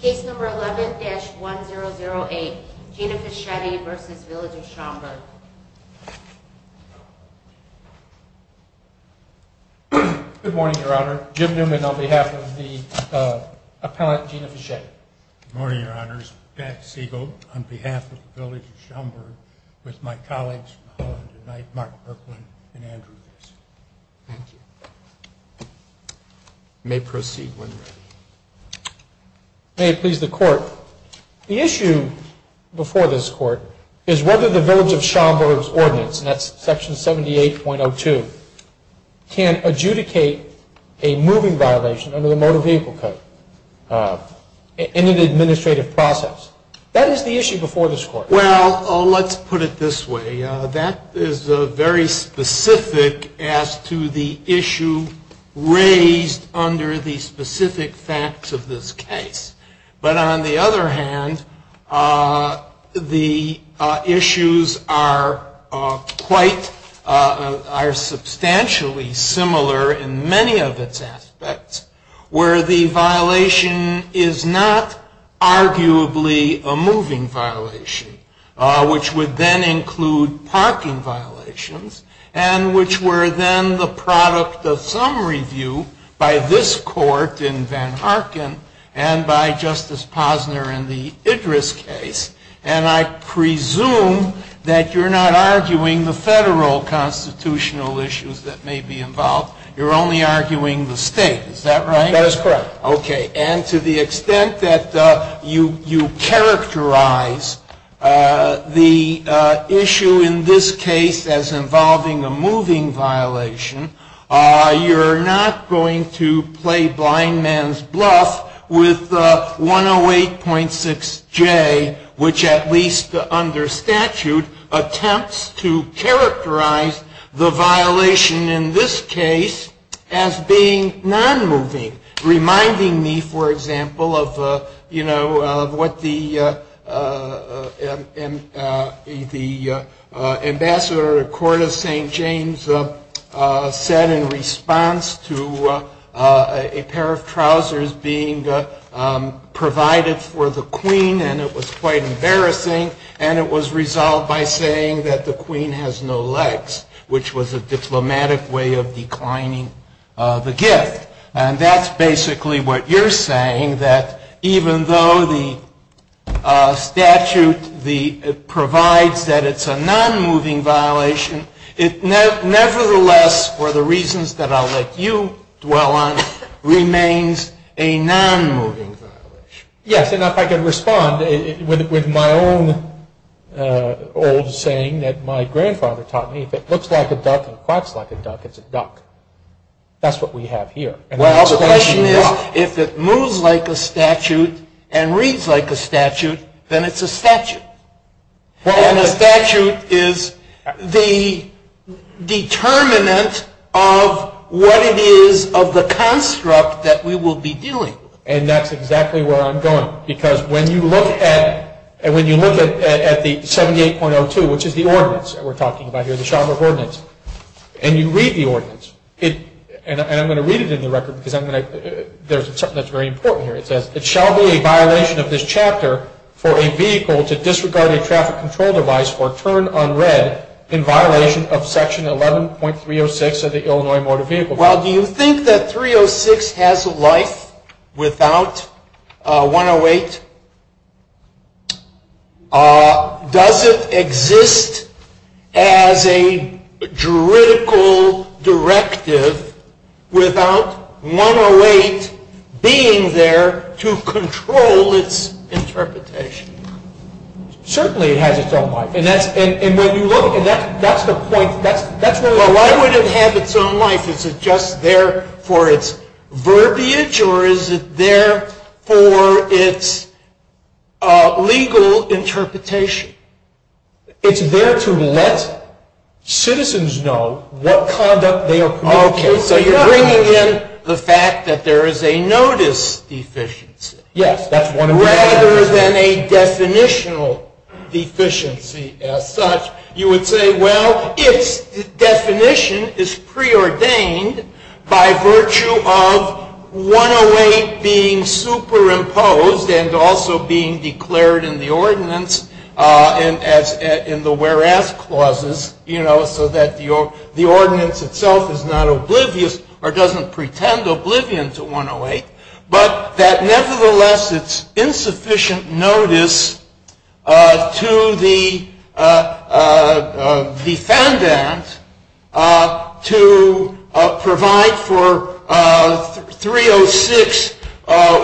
Case No. 11-1008, Gina Fischetti v. Village of Schaumburg Good morning, Your Honor. Jim Newman on behalf of the appellant, Gina Fischetti. Good morning, Your Honors. Pat Siegel on behalf of the Village of Schaumburg, with my colleagues for the call of the night, Mark Kirkland and Andrew Mills. May it please the Court, the issue before this Court is whether the Village of Schaumburg's ordinance, Section 78.02, can adjudicate a moving violation under the Motor Vehicle Code in an administrative process. That is the issue before this Court. Well, let's put it this way. That is very specific as to the issue raised under the specific facts of this case. But on the other hand, the issues are substantially similar in many of its aspects, where the violation is not arguably a moving violation, which would then include parking violations, and which were then the product of some review by this Court in Van Harken and by Justice Posner in the Idris case. And I presume that you're not arguing the federal constitutional issues that may be involved. You're only arguing the state. Is that right? That is correct. Reminding me, for example, of what the Ambassador to the Court of St. James said in response to a pair of trousers being provided for the Queen, and it was quite embarrassing, and it was resolved by saying that the Queen has no legs, which was a diplomatic way of declining the gift. And that's basically what you're saying, that even though the statute provides that it's a non-moving violation, it nevertheless, for the reasons that I'll let you dwell on, remains a non-moving violation. Yes, and if I can respond with my own old saying that my grandfather taught me, if it looks like a duck and quacks like a duck, it's a duck. That's what we have here. Well, the question is, if it moves like a statute and reads like a statute, then it's a statute. And a statute is the determinant of what it is of the construct that we will be dealing with. And that's exactly where I'm going. Because when you look at the 78.02, which is the ordinance that we're talking about here, the Chauvin ordinance, and you read the ordinance, and I'm going to read it in the record because there's something that's very important here. It says, it shall be a violation of this chapter for a vehicle to disregard a traffic control device or turn unread in violation of Section 11.306 of the Illinois Motor Vehicle Code. Well, do you think that 306 has life without 108? Does it exist as a juridical directive without 108 being there to control its interpretation? Certainly it has its own life. And when you look at that, that's the point. Why would it have its own life? Is it just there for its verbiage or is it there for its legal interpretation? It's there to let citizens know what conduct they are committing. Okay. So you're bringing in the fact that there is a notice deficiency. Yes. Rather than a definitional deficiency as such, you would say, well, if definition is preordained by virtue of 108 being superimposed and also being declared in the ordinance in the whereas clauses, you know, so that the ordinance itself is not oblivious or doesn't pretend oblivion to 108, but that nevertheless it's insufficient notice to the defendant to provide for 306,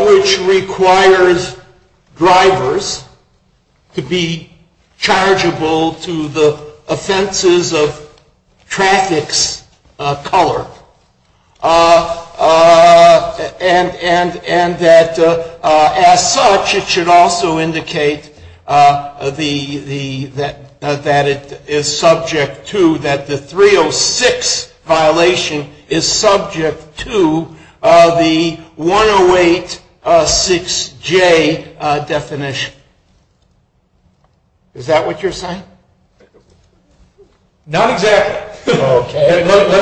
which requires drivers to be chargeable to the offenses of traffic's color. And that as such, it should also indicate that it is subject to, that the 306 violation is subject to the 108-6J definition. Is that what you're saying? Not exactly. Okay. Let me,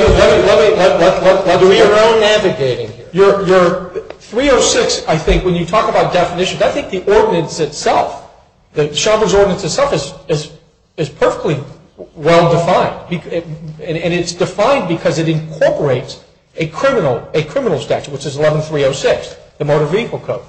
let me, let me. You're 306, I think, when you talk about definition, I think the ordinance itself, the Chambers ordinance itself is perfectly well-defined. And it's defined because it incorporates a criminal statute, which is 11-306, the motor vehicle code.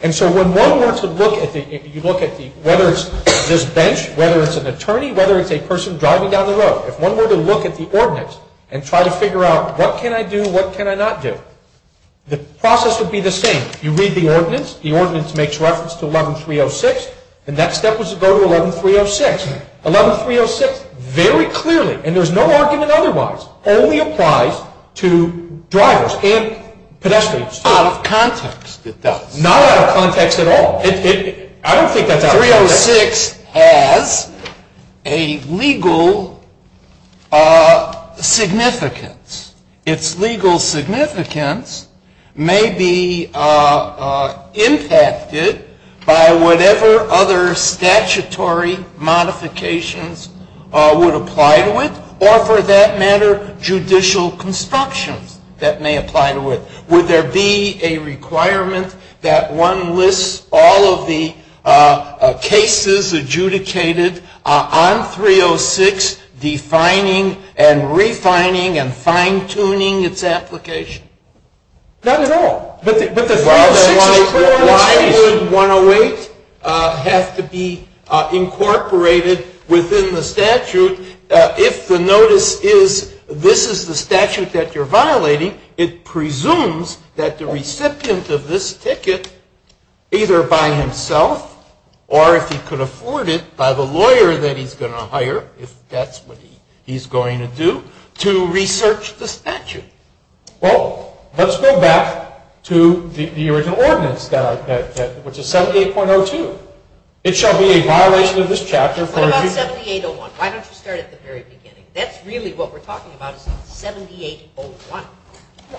And so when one were to look at the, if you look at the, whether it's this bench, whether it's an attorney, whether it's a person driving down the road, if one were to look at the ordinance and try to figure out what can I do and what can I not do, the process would be the same. You read the ordinance. The ordinance makes reference to 11-306. The next step is to go to 11-306. 11-306 very clearly, and there's no argument otherwise, only applies to drivers and pedestrians. Out of context, it does. I don't think that's out of context. 11-306 has a legal significance. Its legal significance may be impacted by whatever other statutory modifications would apply to it, or for that matter, judicial construction that may apply to it. Would there be a requirement that one lists all of the cases adjudicated on 306, defining and refining and fine-tuning its application? Not at all. But the 108 has to be incorporated within the statute. If the notice is, this is the statute that you're violating, it presumes that the recipient of this ticket, either by himself, or if he could afford it, by the lawyer that he's going to hire, if that's what he's going to do, to research the statute. Well, let's go back to the original ordinance, which is 78.02. It shall be a violation of this chapter. 78.01, why don't you start at the very beginning? That's really what we're talking about, 78.01.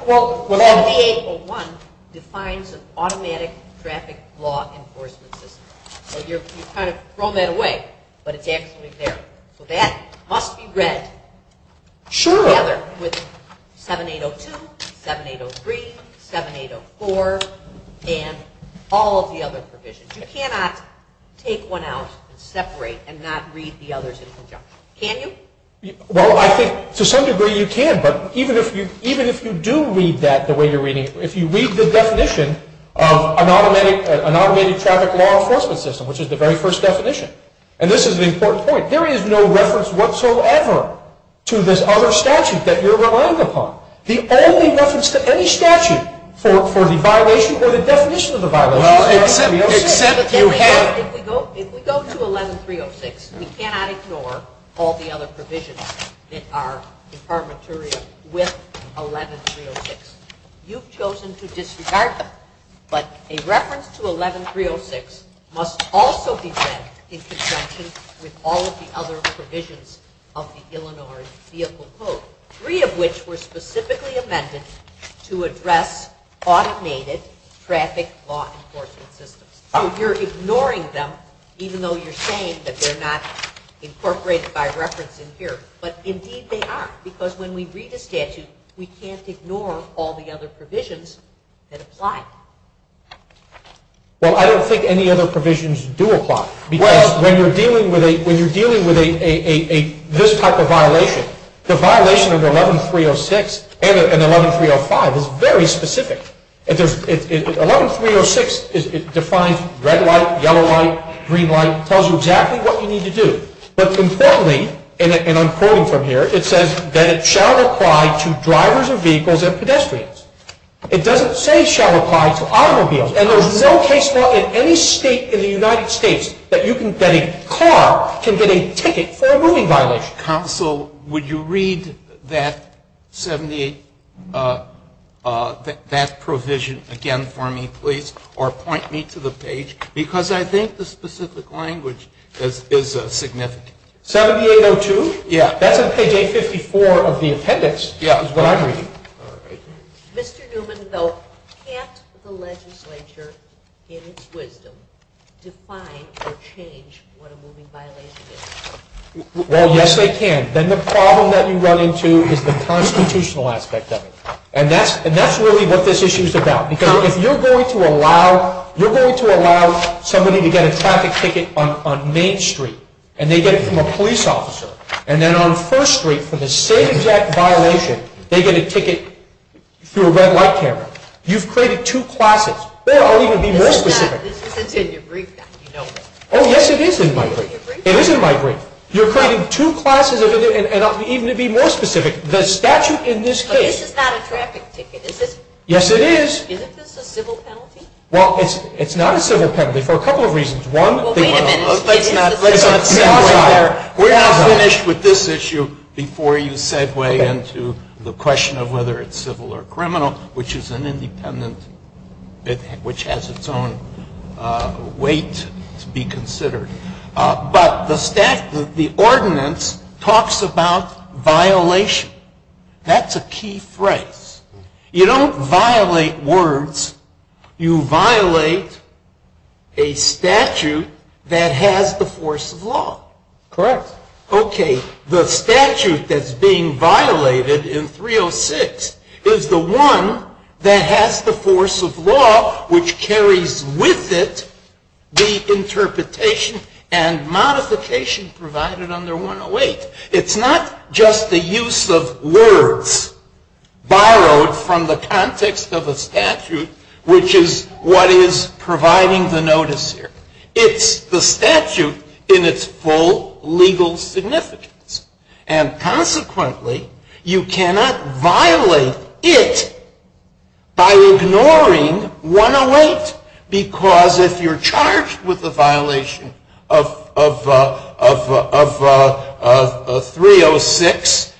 Well, 78.01 defines an automatic traffic law enforcement system. You've kind of thrown that away, but it's actually there. That must be read together with 7.802, 7.803, 7.804, and all of the other provisions. You cannot take one out, separate, and not read the others in conjunction. Can you? Well, I think to some degree you can. But even if you do read that the way you're reading it, if you read the definition of an automated traffic law enforcement system, which is the very first definition, and this is an important point, there is no reference whatsoever to this other statute that you're relying upon. There isn't any reference to any statute for the violation or the definition of the violation. If we go to 11.306, we cannot ignore all the other provisions that are in our material with 11.306. You've chosen to disregard them. But a reference to 11.306 must also be read in conjunction with all of the other provisions of the Illinois Vehicle Code, three of which were specifically amended to address automated traffic law enforcement systems. So you're ignoring them, even though you're saying that they're not incorporated by reference in here. But indeed they are, because when we read a statute, we can't ignore all the other provisions that apply. Well, I don't think any other provisions do apply, because when you're dealing with this type of violation, the violation of 11.306 and 11.305 is very specific. 11.306 defines red light, yellow light, green light, tells you exactly what you need to do. But importantly, and I'm quoting from here, it says that it shall apply to drivers of vehicles and pedestrians. It doesn't say it shall apply to automobiles, and there's no case now in any state in the United States that a car can get a ticket for a moving violation. Counsel, would you read that provision again for me, please, or point me to the page, because I think the specific language is significant. 7802? Yeah. That's on page 854 of the appendix. Yeah. That's what I'm reading. Mr. Newman, though, can't the legislature, in its wisdom, define or change what a moving violation is? Well, yes, they can. Then the problem that you run into is the constitutional aspect of it, and that's really what this issue is about, because if you're going to allow somebody to get a traffic ticket on Main Street, and they get it from a police officer, and then on First Street, for the same exact violation, they get a ticket through a red light camera, you've created two classes. They don't even be listed in there. It's in your brief. Oh, yes, it is in my brief. It is in my brief. You're creating two classes, and even to be more specific, the statute in this case. This is not a traffic ticket, is it? Yes, it is. Isn't this a civil penalty? Well, it's not a civil penalty for a couple of reasons. Well, wait a minute. We're not finished with this issue before you segue into the question of whether it's civil or criminal, which is an independent, which has its own weight to be considered. But the statute, the ordinance, talks about violation. That's a key phrase. You don't violate words. You violate a statute that has the force of law. Correct. Okay, the statute that's being violated in 306 is the one that has the force of law, which carries with it the interpretation and modification provided under 108. It's not just the use of words borrowed from the context of a statute, which is what is providing the notice here. It's the statute in its full legal significance. And consequently, you cannot violate it by ignoring 108, because if you're charged with a violation of 306,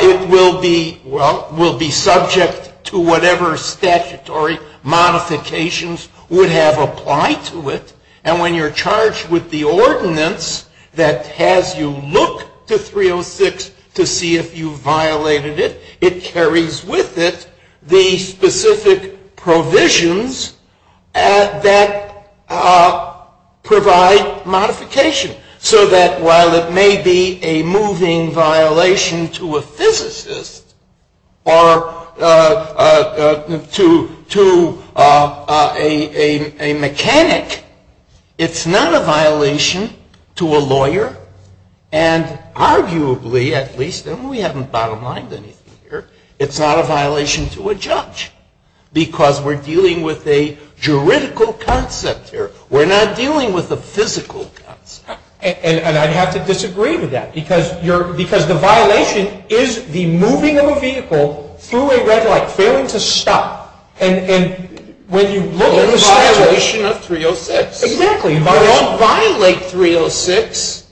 it will be subject to whatever statutory modifications would have applied to it. And when you're charged with the ordinance that has you look to 306 to see if you violated it, it carries with it the specific provisions that provide modification. So that while it may be a moving violation to a physicist or to a mechanic, it's not a violation to a lawyer, and arguably at least, and we haven't bottomed out anything here, it's not a violation to a judge, because we're dealing with a juridical concept here. We're not dealing with a physical concept. And I'd have to disagree with that, because the violation is the moving of a vehicle through a red light, failing to stop. And when you look at the violation of 306, you don't violate 306.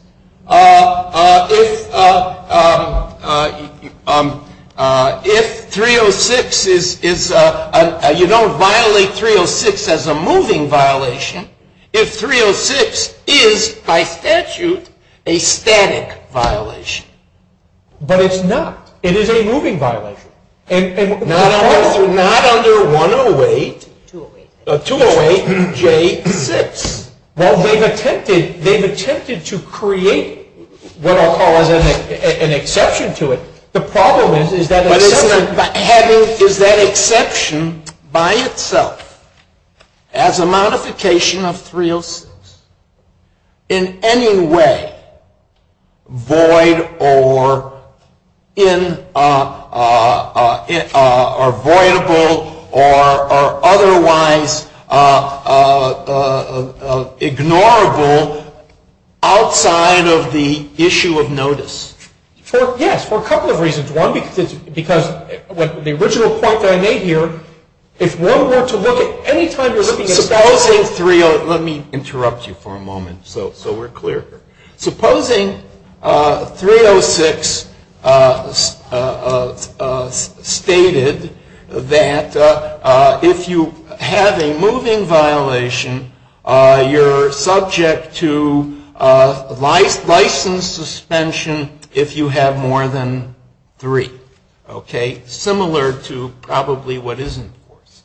If 306 is, you don't violate 306 as a moving violation. If 306 is, by statute, a static violation. But it's not. It is a moving violation. Not under 108, 208-J-6. Well, they've attempted to create what I'll call an exception to it. Ignorable outside of the issue of notice. Yes, for a couple of reasons. One, because the original point that I made here, it's no more to look at. Any time you're looking at 306. Let me interrupt you for a moment so we're clear here. Supposing 306 stated that if you have a moving violation, you're subject to license suspension if you have more than three. Okay? Similar to probably what is enforced.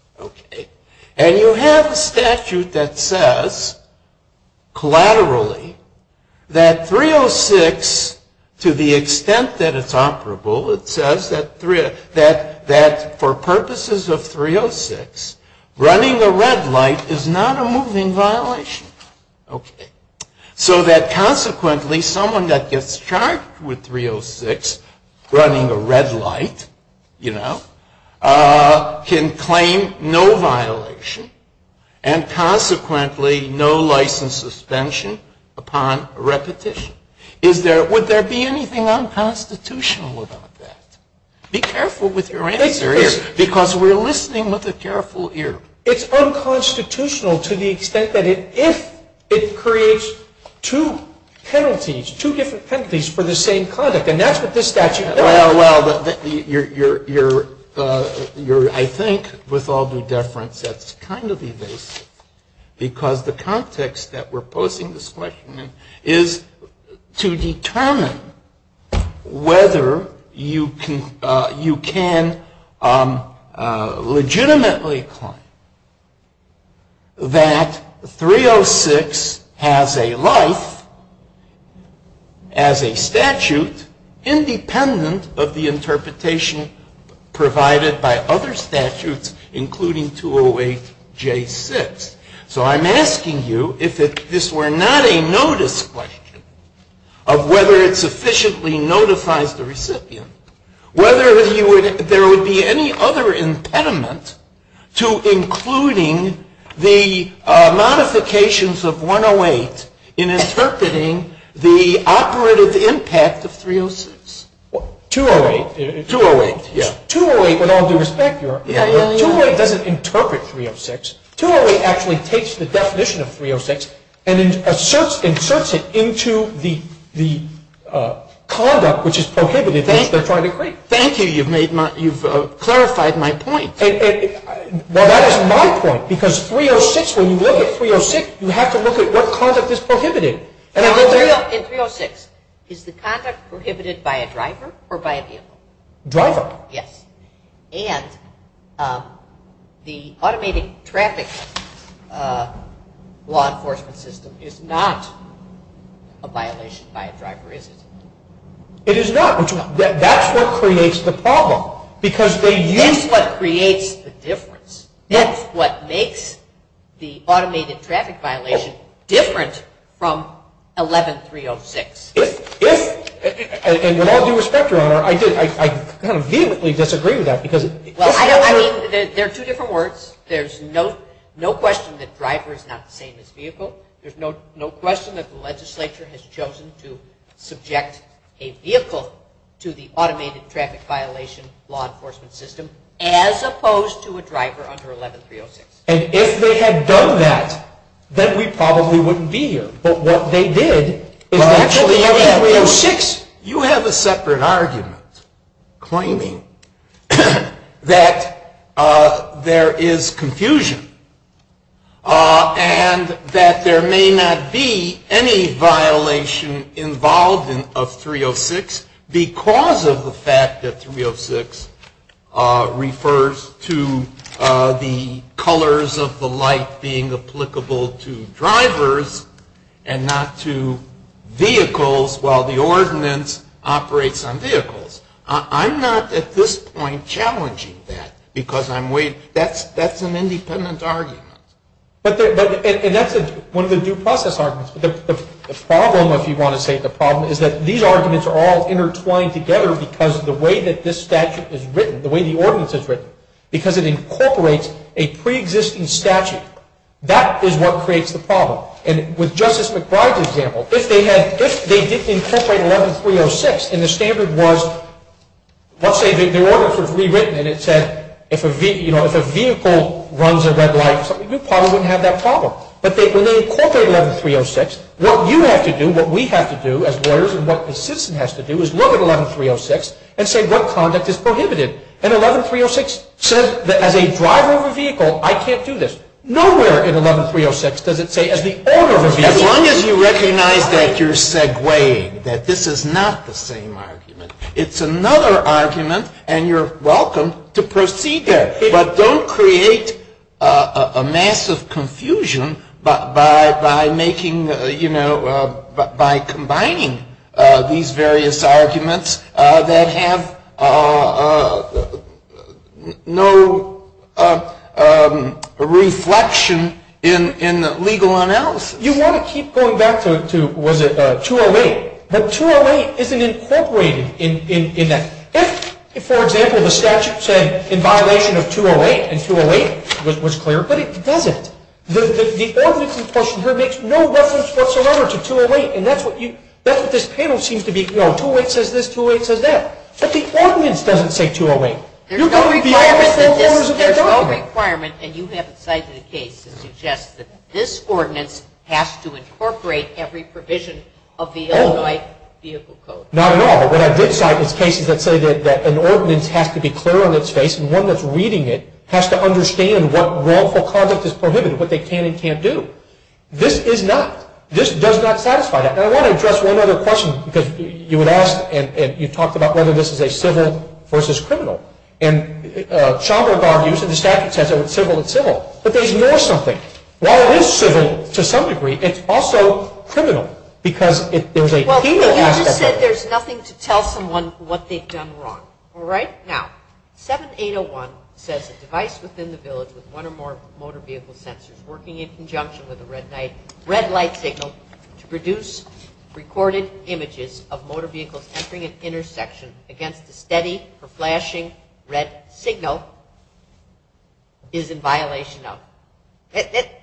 And you have a statute that says, collaterally, that 306, to the extent that it's operable, it says that for purposes of 306, running a red light is not a moving violation. Okay. So that, consequently, someone that gets charged with 306 running a red light, you know, can claim no violation and, consequently, no license suspension upon repetition. Would there be anything unconstitutional about that? Be careful with your answer, because we're listening with a careful ear. It's unconstitutional to the extent that if it creates two penalties, two different penalties for the same conduct. And that's what this statute says. Well, you're, I think, with all due deference, that's kind of evasive. Because the context that we're posing this question in is to determine whether you can legitimately claim that 306 has a life, as a statute, independent of the interpretation provided by other statutes, including 208J6. So I'm asking you if this were not a notice question of whether it sufficiently notifies the recipient, whether there would be any other impediment to including the modifications of 108 in interpreting the operative impact of 306. 208. 208. Yeah. 208, with all due respect, 208 doesn't interpret 306. 208 actually takes the definition of 306 and inserts it into the conduct which is prohibited. Thank you, you've made my, you've clarified my point. Well, that is my point, because 306, when you look at 306, you have to look at what conduct is prohibited. In 306, is the conduct prohibited by a driver or by a vehicle? Driver. Yes. And the automated traffic law enforcement system is not a violation by a driver, is it? It is not. That's what creates the problem, because they use... That's what creates the difference. Yes. That's what makes the automated traffic violation different from 11306. And with all due respect, Your Honor, I vehemently disagree with that, because... I mean, they're two different words. There's no question that driver is not the same as vehicle. There's no question that the legislature has chosen to subject a vehicle to the automated traffic violation law enforcement system, as opposed to a driver under 11306. And if they had done that, then we probably wouldn't be here. But what they did is actually... You have a separate argument, claiming that there is confusion, and that there may not be any violation involved in 306, because of the fact that 306 refers to the colors of the light being applicable to drivers and not to vehicles while the ordinance operates on vehicles. I'm not, at this point, challenging that, because that's an independent argument. And that's one of the due process arguments. The problem, if you want to say the problem, is that these arguments are all intertwined together because of the way that this statute is written, the way the ordinance is written. Because it incorporates a pre-existing statute. That is what creates the problem. And with Justice McBride's example, if they did incorporate 11306, and the standard was... Let's say the ordinance was rewritten, and it said if a vehicle runs a red light, we probably wouldn't have that problem. But they incorporate 11306. What you have to do, what we have to do, as lawyers and what the system has to do, is look at 11306 and say what conduct is prohibited. And 11306 says that as a driver of a vehicle, I can't do this. Nowhere in 11306 does it say as the owner of a vehicle... As long as you recognize that you're segueing, that this is not the same argument. It's another argument, and you're welcome to proceed there. But don't create a massive confusion by combining these various arguments that have no reflection in the legal analysis. You want to keep going back to 208, but 208 isn't incorporated in that. If, for example, the statute said in violation of 208, and 208 was clear, but it doesn't. The ordinance, of course, makes no reference whatsoever to 208, and that's what this panel seems to be for. 208 says this, 208 says that. But the ordinance doesn't say 208. You're going to be behind this panel for years to come. This is our requirement, and you have decided in a case to suggest that this ordinance has to incorporate every provision of the 11306 Vehicle Code. Not at all. What I did cite is cases that say that an ordinance has to be clear on its face, and one that's reading it has to understand what wrongful conduct is prohibited, what they can and can't do. This is not. This does not satisfy that. And I want to address one other question, because you would ask, and you talked about whether this is a civil versus criminal. And Chandra Barney, who's in the statute, says it's civil and civil, but there's more to something. I said there's nothing to tell someone what they've done wrong. All right? Now, 7801 says a device within the village with one or more motor vehicle sensors working in conjunction with a red light signal to produce recorded images of motor vehicle entering an intersection against a steady or flashing red signal is in violation of.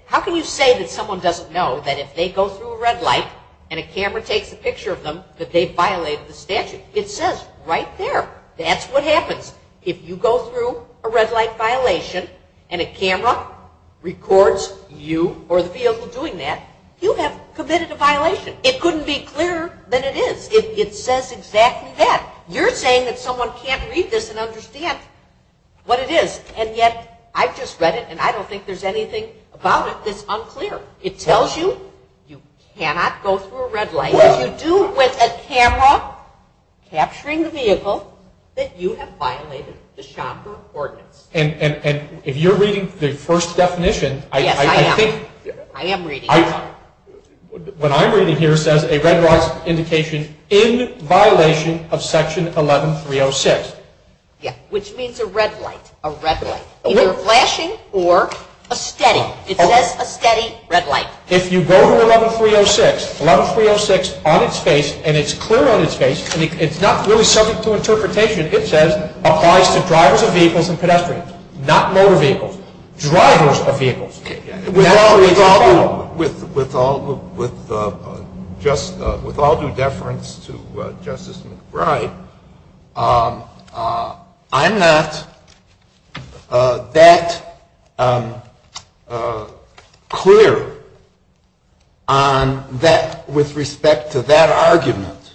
How can you say that someone doesn't know that if they go through a red light and a camera takes a picture of them that they've violated the statute? It says right there. That's what happens. If you go through a red light violation and a camera records you or the vehicle doing that, you have committed a violation. It couldn't be clearer than it is. It says exactly that. You're saying that someone can't read this and understand what it is, and yet I've just read it and I don't think there's anything about it that's unclear. It tells you you cannot go through a red light. You do it with a camera capturing the vehicle that you have violated the shopper ordinance. And if you're reading the first definition, I think... Yes, I am. I am reading it. What I'm reading here says a red light indication in violation of Section 11306. Yes, which means a red light, a red light. Either flashing or a steady. It says a steady red light. If you go to 11306, 11306 on its page, and it's clear on its page, and it's not really subject to interpretation, it says applies to drivers of vehicles and pedestrians, not motor vehicles, drivers of vehicles. With all due deference to Justice McBride, I'm not that clear on that with respect to that argument,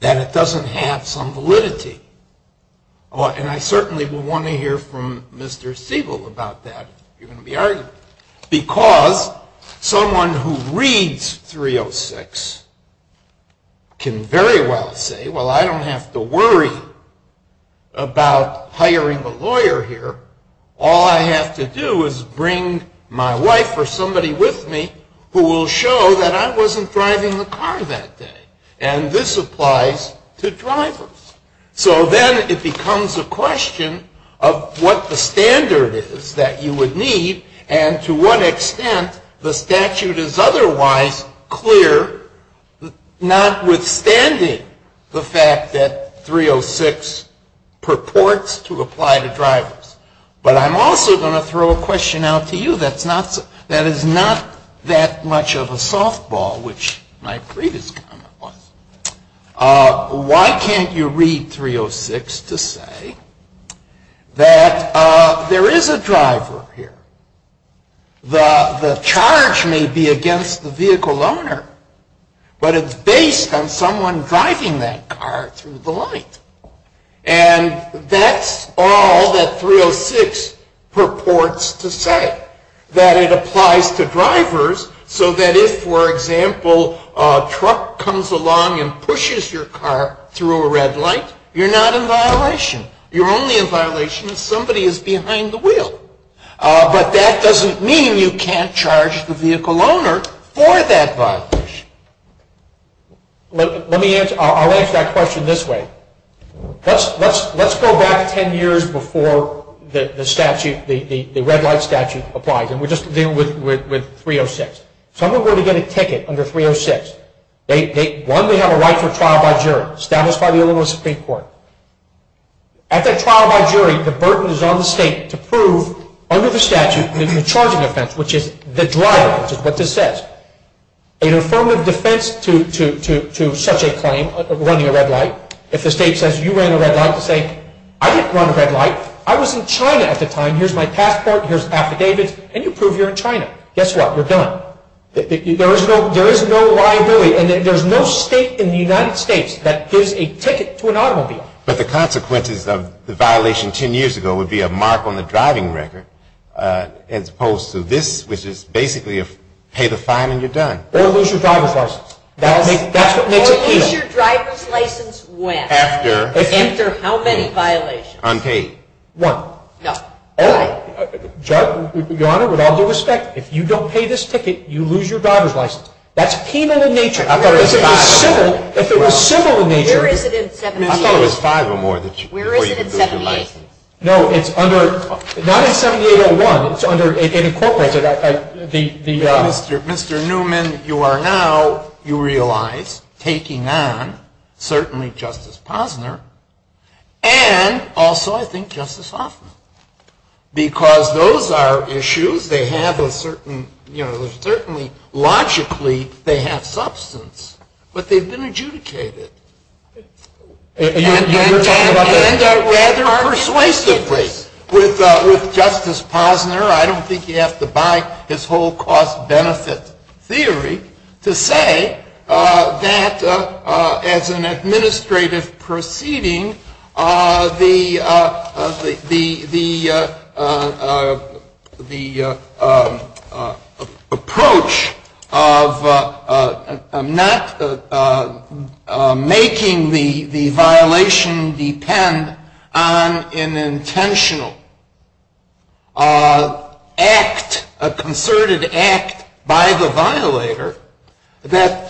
that it doesn't have some validity. And I certainly would want to hear from Mr. Siebel about that argument. Because someone who reads 306 can very well say, well, I don't have to worry about hiring a lawyer here. All I have to do is bring my wife or somebody with me who will show that I wasn't driving the car that day. And this applies to drivers. So then it becomes a question of what the standard is that you would need, and to what extent the statute is otherwise clear, notwithstanding the fact that 306 purports to apply to drivers. But I'm also going to throw a question out to you that is not that much of a softball, which my previous comment was. Why can't you read 306 to say that there is a driver here? The charge may be against the vehicle owner, but it's based on someone driving that car through the light. And that's all that 306 purports to say, that it applies to drivers so that if, for example, a truck comes along and pushes your car through a red light, you're not in violation. You're only in violation if somebody is behind the wheel. But that doesn't mean you can't charge the vehicle owner for that violation. I'll answer that question this way. Let's go back ten years before the statute, the red light statute, applied. And we're just dealing with 306. Someone were to get a ticket under 306. One, they have a right to a trial by jury, established by the Illinois Supreme Court. At that trial by jury, the burden is on the state to prove, under the statute, the charging offense, which is the driver, which is what this says. In a form of defense to such a claim of running a red light, if the state says, you were in a red light, say, I didn't run a red light. I was in China at the time. Here's my passport. Here's an affidavit. Can you prove you're in China? Guess what? You're done. There is no liability. And there's no state in the United States that gives a ticket to an automobile. But the consequences of the violation ten years ago would be a mark on the driving record, as opposed to this, which is basically pay the fine and you're done. Or lose your driver's license. That's what makes it penal. What is your driver's license when? After. After how many violations? Unpaid. One. No. All right. Your Honor, with all due respect, if you don't pay this ticket, you lose your driver's license. That's penal in nature. If it was civil, if it was civil in nature. Where is it in 78? I thought it was five or more. Where is it in 78? No, it's under, not in 7801. It's under, it incorporates it. Mr. Newman, you are now, you realize, taking on certainly Justice Posner and also, I think, Justice Hoffman. Because those are issues. They have a certain, you know, certainly, logically, they have substance. But they've been adjudicated. You're talking about the things that were adjudicated unrequitedly with Justice Posner. I don't think you have to buy his whole cost-benefit theory to say that as an administrative proceeding, the approach of not making the violation depend on an intentional act, a concerted act by the violator, that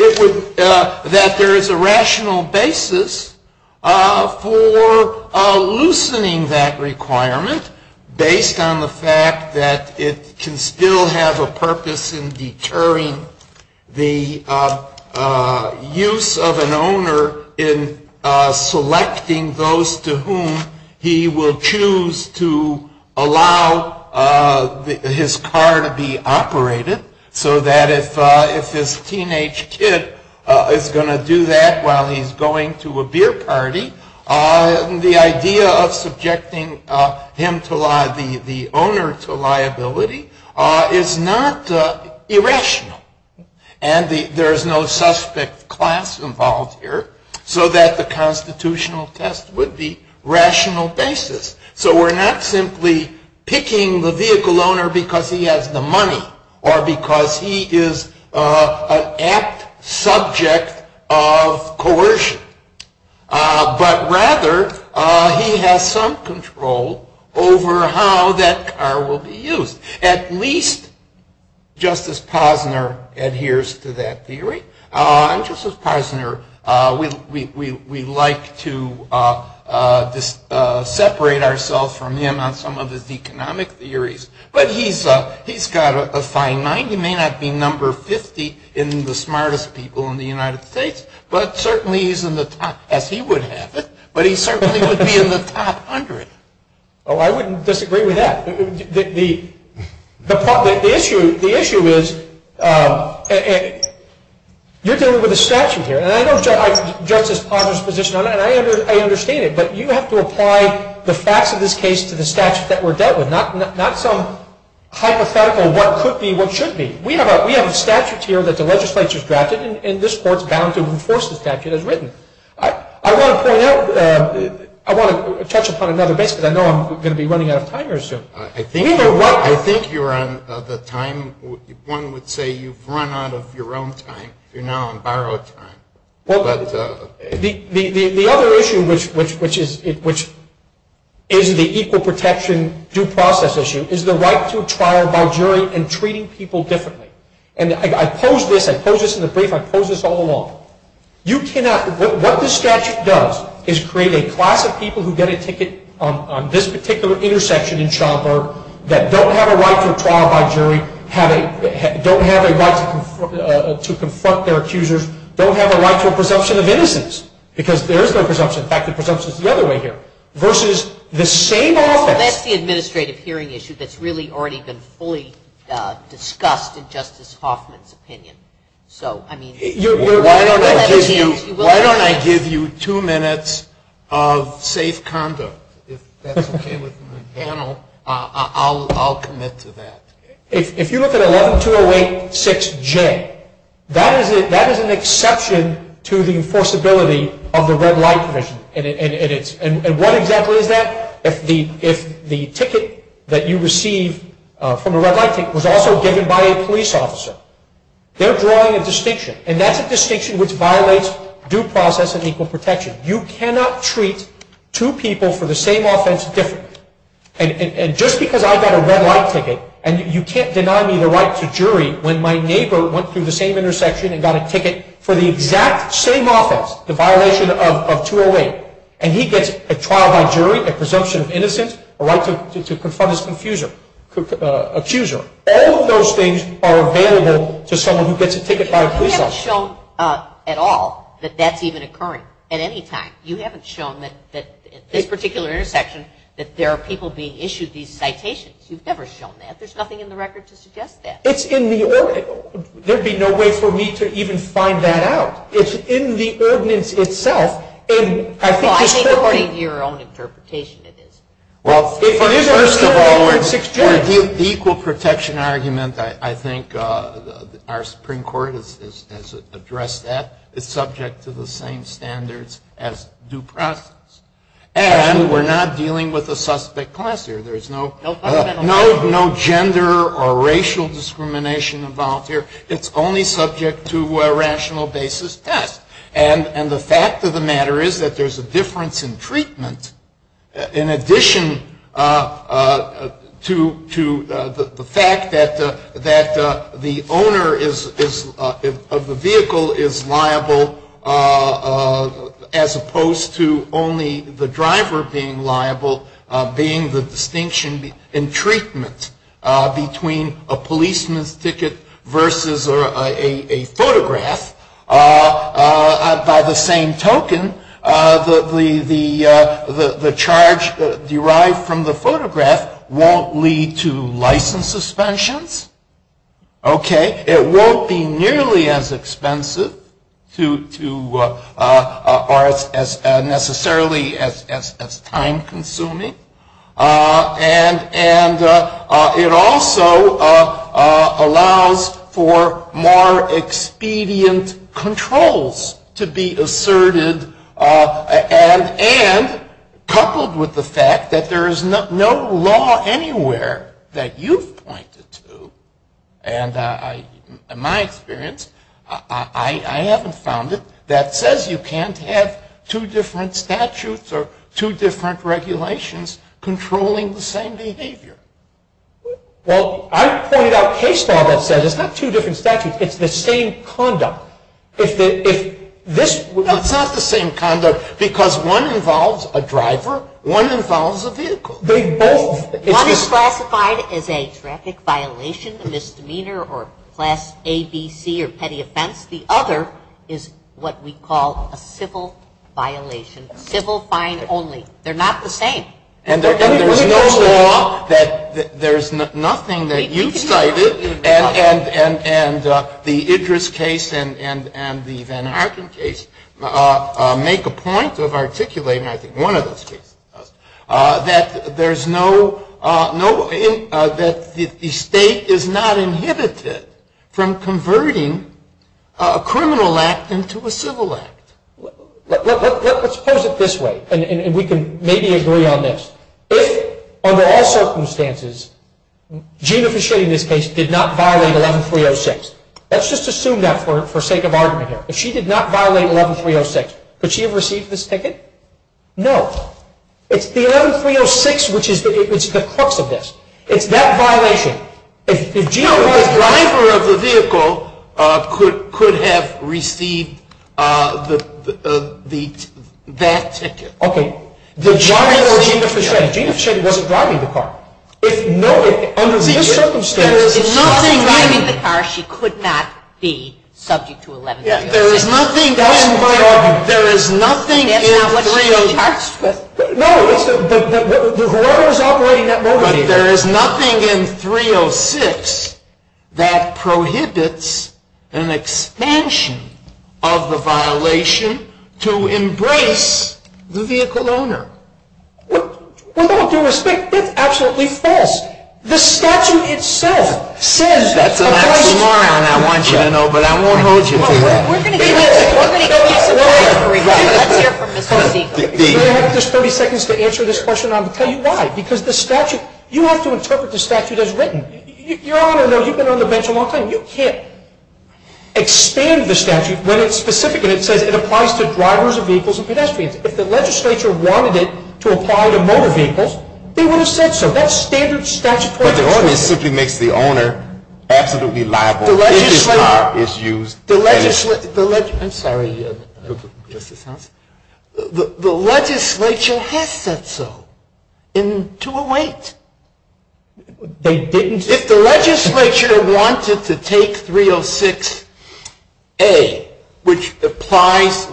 there is a rational basis for loosening that requirement based on the fact that it can still have a purpose in deterring the use of an owner in selecting those to whom he will choose to allow his car to be operated, so that if his teenage kid is going to do that while he's going to a beer party, the idea of subjecting the owner to liability is not irrational. And there is no suspect class involved here, so that the constitutional test would be rational basis. So we're not simply picking the vehicle owner because he has the money or because he is an apt subject of coercion. But rather, he has some control over how that car will be used. At least Justice Posner adheres to that theory. Justice Posner, we like to separate ourselves from him on some of his economic theories, but he's got a fine mind. He may not be number 50 in the smartest people in the United States, but certainly he's in the top, as he would have it, but he certainly would be in the top hundred. Oh, I wouldn't disagree with that. The issue is you're dealing with a statute here, and I don't judge Justice Posner's position on that. I understand it, but you have to apply the facts of this case to the statute that we're dealt with, not some hypothetical what could be, what should be. We have a statute here that the legislature has drafted, and this Court is bound to enforce the statute as written. I want to touch upon another bit because I know I'm going to be running out of time very soon. I think you're on the time. One would say you've run out of your own time. You're now on borrowed time. The other issue, which is the equal protection due process issue, is the right to a trial by jury in treating people differently. I pose this in the brief. I pose this all along. What the statute does is create a class of people who get a ticket on this particular intersection in childbirth that don't have a right to a trial by jury, don't have a right to confront their accusers, don't have a right to a presumption of innocence, because there is no presumption. In fact, the presumption is the other way here. That's the administrative hearing issue that's really already been fully discussed in Justice Hoffman's opinion. Why don't I give you two minutes of safe conduct? If that's okay with the panel, I'll commit to that. If you look at 11-208-6J, that is an exception to the enforceability of the red light provision. And what exactly is that? If the ticket that you receive from the red light ticket was also given by a police officer, they're drawing a distinction, and that's a distinction which violates due process and equal protection. You cannot treat two people for the same offense differently. And just because I got a red light ticket and you can't deny me the right to jury when my neighbor went through the same intersection and got a ticket for the exact same offense, the violation of 208, and he gets a trial by jury, a presumption of innocence, a right to confirm his accuser, all of those things are available to someone who gets a ticket by a police officer. We haven't shown at all that that's even occurring at any time. You haven't shown that in this particular intersection that there are people being issued these citations. You've never shown that. There's nothing in the record to suggest that. It's in the order. There'd be no way for me to even find that out. It's in the ordinance itself. Well, I think according to your own interpretation it is. Well, the equal protection argument, I think our Supreme Court has addressed that. It's subject to the same standards as due process. And we're not dealing with a suspect class here. There's no gender or racial discrimination involved here. It's only subject to a rational basis test. And the fact of the matter is that there's a difference in treatment in addition to the fact that the owner of the vehicle is liable, as opposed to only the driver being liable, being the distinction in treatment between a policeman's ticket versus a photograph. By the same token, the charge derived from the photograph won't lead to license suspensions. Okay? It won't be nearly as expensive or necessarily as time-consuming. And it also allows for more expedient controls to be asserted, and coupled with the fact that there is no law anywhere that you've pointed to, and in my experience, I haven't found it, that says you can't have two different statutes or two different regulations controlling the same behavior. Well, I've pointed out case law that says it's not two different statutes, it's the same conduct. It's not the same conduct because one involves a driver, one involves a vehicle. One is classified as a therapeutic violation, a misdemeanor, or class A, B, C, or petty offense. The other is what we call a civil violation, civil fine only. They're not the same. And there's no law that there's nothing that you've cited, and the Idris case and the Van Harpen case make a point of articulating, and I think one of them speaks to this, that the state is not inhibited from converting a criminal act into a civil act. Let's pose it this way, and we can maybe agree on this. If, under all circumstances, Gina Fischetti in this case did not violate 11306, let's just assume that for sake of argument here. If she did not violate 11306, could she have received this ticket? No. It's 11306 which is the crux of this. It's that violation. If Gina was the driver of the vehicle, could have received that ticket. Okay. The driver of Gina Fischetti. Gina Fischetti wasn't driving the car. If nothing, under the circumstances, If nothing, driving the car, she could not be subject to 11306. There is nothing in 306 that prohibits an expansion of the violation to embrace the vehicle owner. Well, no, to your respect, that's absolutely false. The statute itself says that. That's a lie, and I want you to know, but I won't hold you to that. Do I have just 30 seconds to answer this question? I'll tell you why. Because the statute, you have to interpret the statute as written. Your Honor, you've been on the bench a long time, you can't expand the statute when it specifically says it applies to drivers of vehicles and pedestrians. If the legislature wanted it to apply to motor vehicles, they would have said so. That's standard statute. But it always simply makes the owner absolutely liable. It is not. I'm sorry. The legislature has said so in 208. If the legislature wanted to take 306A, which applies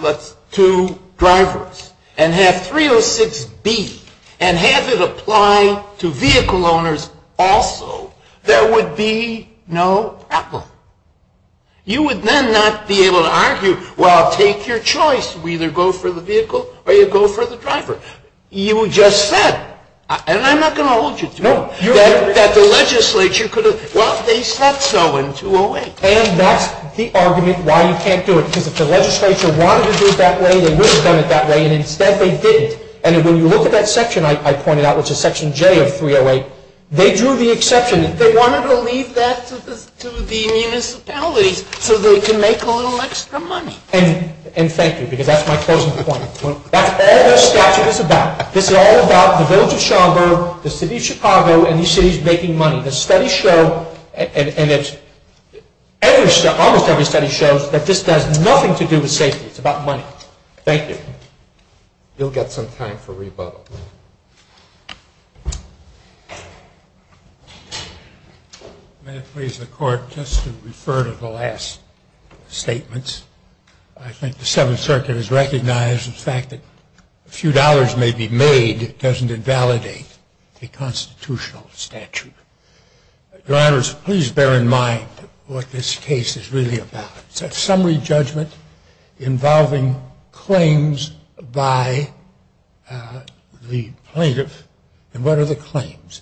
to drivers, and had 306B and had it apply to vehicle owners also, there would be no problem. You would then not be able to argue, well, take your choice. We either go for the vehicle or you go for the driver. You just said, and I'm not going to hold you to it, that the legislature could have, well, they said so in 208. And that's the argument why you can't do it, because if the legislature wanted to do it that way, they would have done it that way, and instead they didn't. And when you look at that section I pointed out, which is section J of 308, they drew the exception. They wanted to leave that to the municipalities so they can make a little extra money. And thank you, because that's my closing point. That's what this statute is about. This is all about the vote of Chicago, the city of Chicago, and the city's making money. The studies show, and almost every study shows, that this has nothing to do with safety. It's about money. Thank you. We'll get some time for rebuttal. May it please the Court, just to refer to the last statements. I think the Seventh Circuit has recognized the fact that a few dollars may be made if it doesn't invalidate a constitutional statute. Drivers, please bear in mind what this case is really about. It's a summary judgment involving claims by the plaintiff. And what are the claims?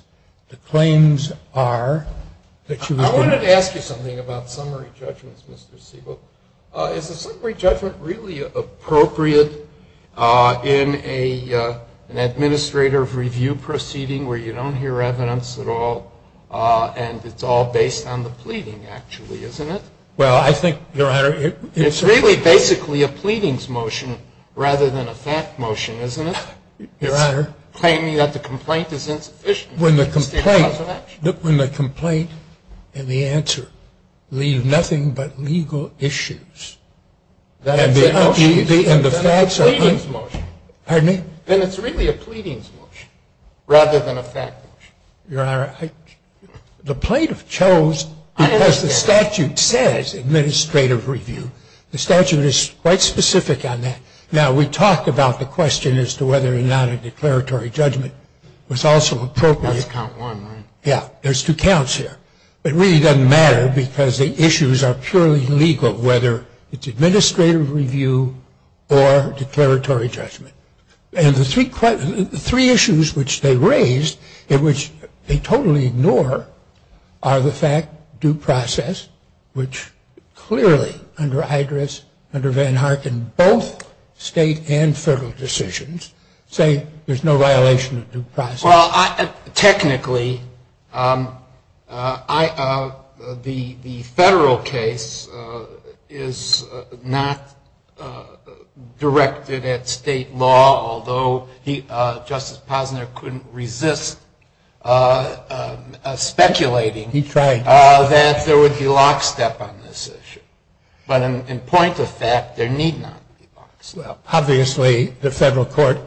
I wanted to ask you something about summary judgments, Mr. Siegel. Is a summary judgment really appropriate in an administrative review proceeding where you don't hear evidence at all and it's all based on the pleading, actually, isn't it? Well, I think, Your Honor, it's really basically a pleadings motion rather than a fact motion, isn't it? Your Honor. Claiming that the complaint is insufficient. When the complaint and the answer leave nothing but legal issues. That's a pleading motion. Pardon me? Then it's really a pleadings motion rather than a fact motion. Your Honor, the plaintiff chose, as the statute says, administrative review. The statute is quite specific on that. Now, we talked about the question as to whether or not a declaratory judgment was also appropriate. There's two counts here. It really doesn't matter because the issues are purely legal, whether it's administrative review or declaratory judgment. And the three issues which they raise and which they totally ignore are the fact, due process, which clearly under Idris, under Van Harken, both state and federal decisions say there's no violation of due process. Well, technically, the federal case is not directed at state law, although Justice Posner couldn't resist speculating that there would be lockstep on this issue. But in point of fact, there need not be lockstep. Well, obviously, the federal court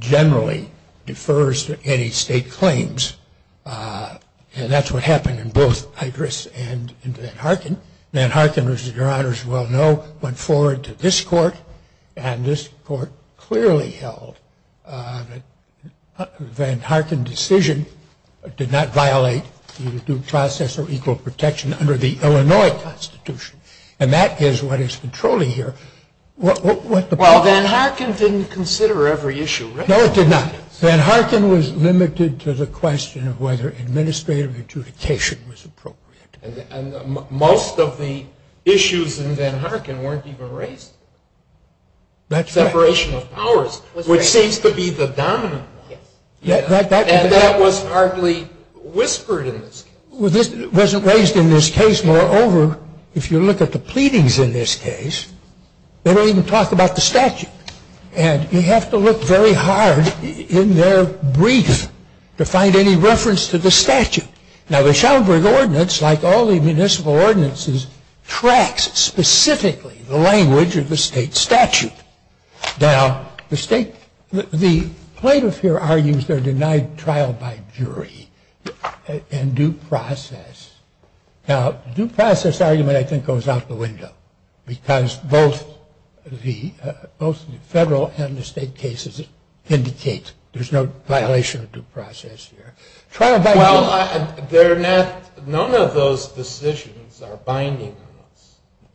generally defers to any state claims. And that's what happened in both Idris and Van Harken. Van Harken, as Your Honors well know, went forward to this court. And this court clearly held that the Van Harken decision did not violate due process or equal protection under the Illinois Constitution. And that is what is controlling here. Well, Van Harken didn't consider every issue, right? No, it did not. Van Harken was limited to the question of whether administrative adjudication was appropriate. Most of the issues in Van Harken weren't even raised. Separation of powers, which seems to be the dominant one. And that was hardly whispered in this case. It wasn't raised in this case. Moreover, if you look at the pleadings in this case, they don't even talk about the statute. And you have to look very hard in their brief to find any reference to the statute. Now, the Schomburg Ordinance, like all the municipal ordinances, tracks specifically the language of the state statute. Now, the state, the plaintiff here argues they're denied trial by jury and due process. Now, due process argument, I think, goes out the window. Because both the federal and the state cases indicate there's no violation of due process here. Well, none of those decisions are binding.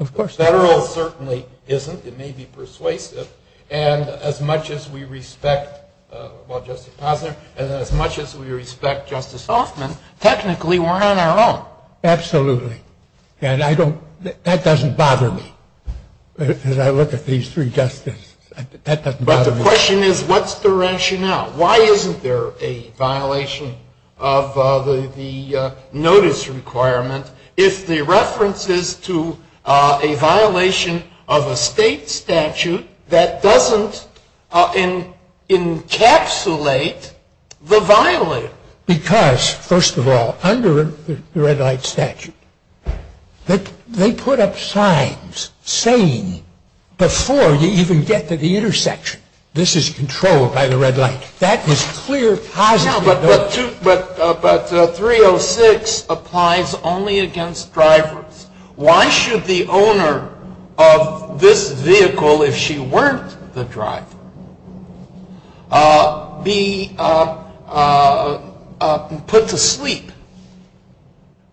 Federal certainly isn't. It may be persuasive. And as much as we respect Justice Posner and as much as we respect Justice Hoffman, technically we're on our own. Absolutely. And that doesn't bother me. As I look at these three justices, that doesn't bother me. But the question is, what's the rationale? Why isn't there a violation of the notice requirement if the reference is to a violation of a state statute that doesn't encapsulate the violator? Because, first of all, under the red light statute, they put up signs saying before you even get to the intersection, this is controlled by the red light. That is clear positive. But 306 applies only against drivers. Why should the owner of this vehicle, if she weren't the driver, be put to sleep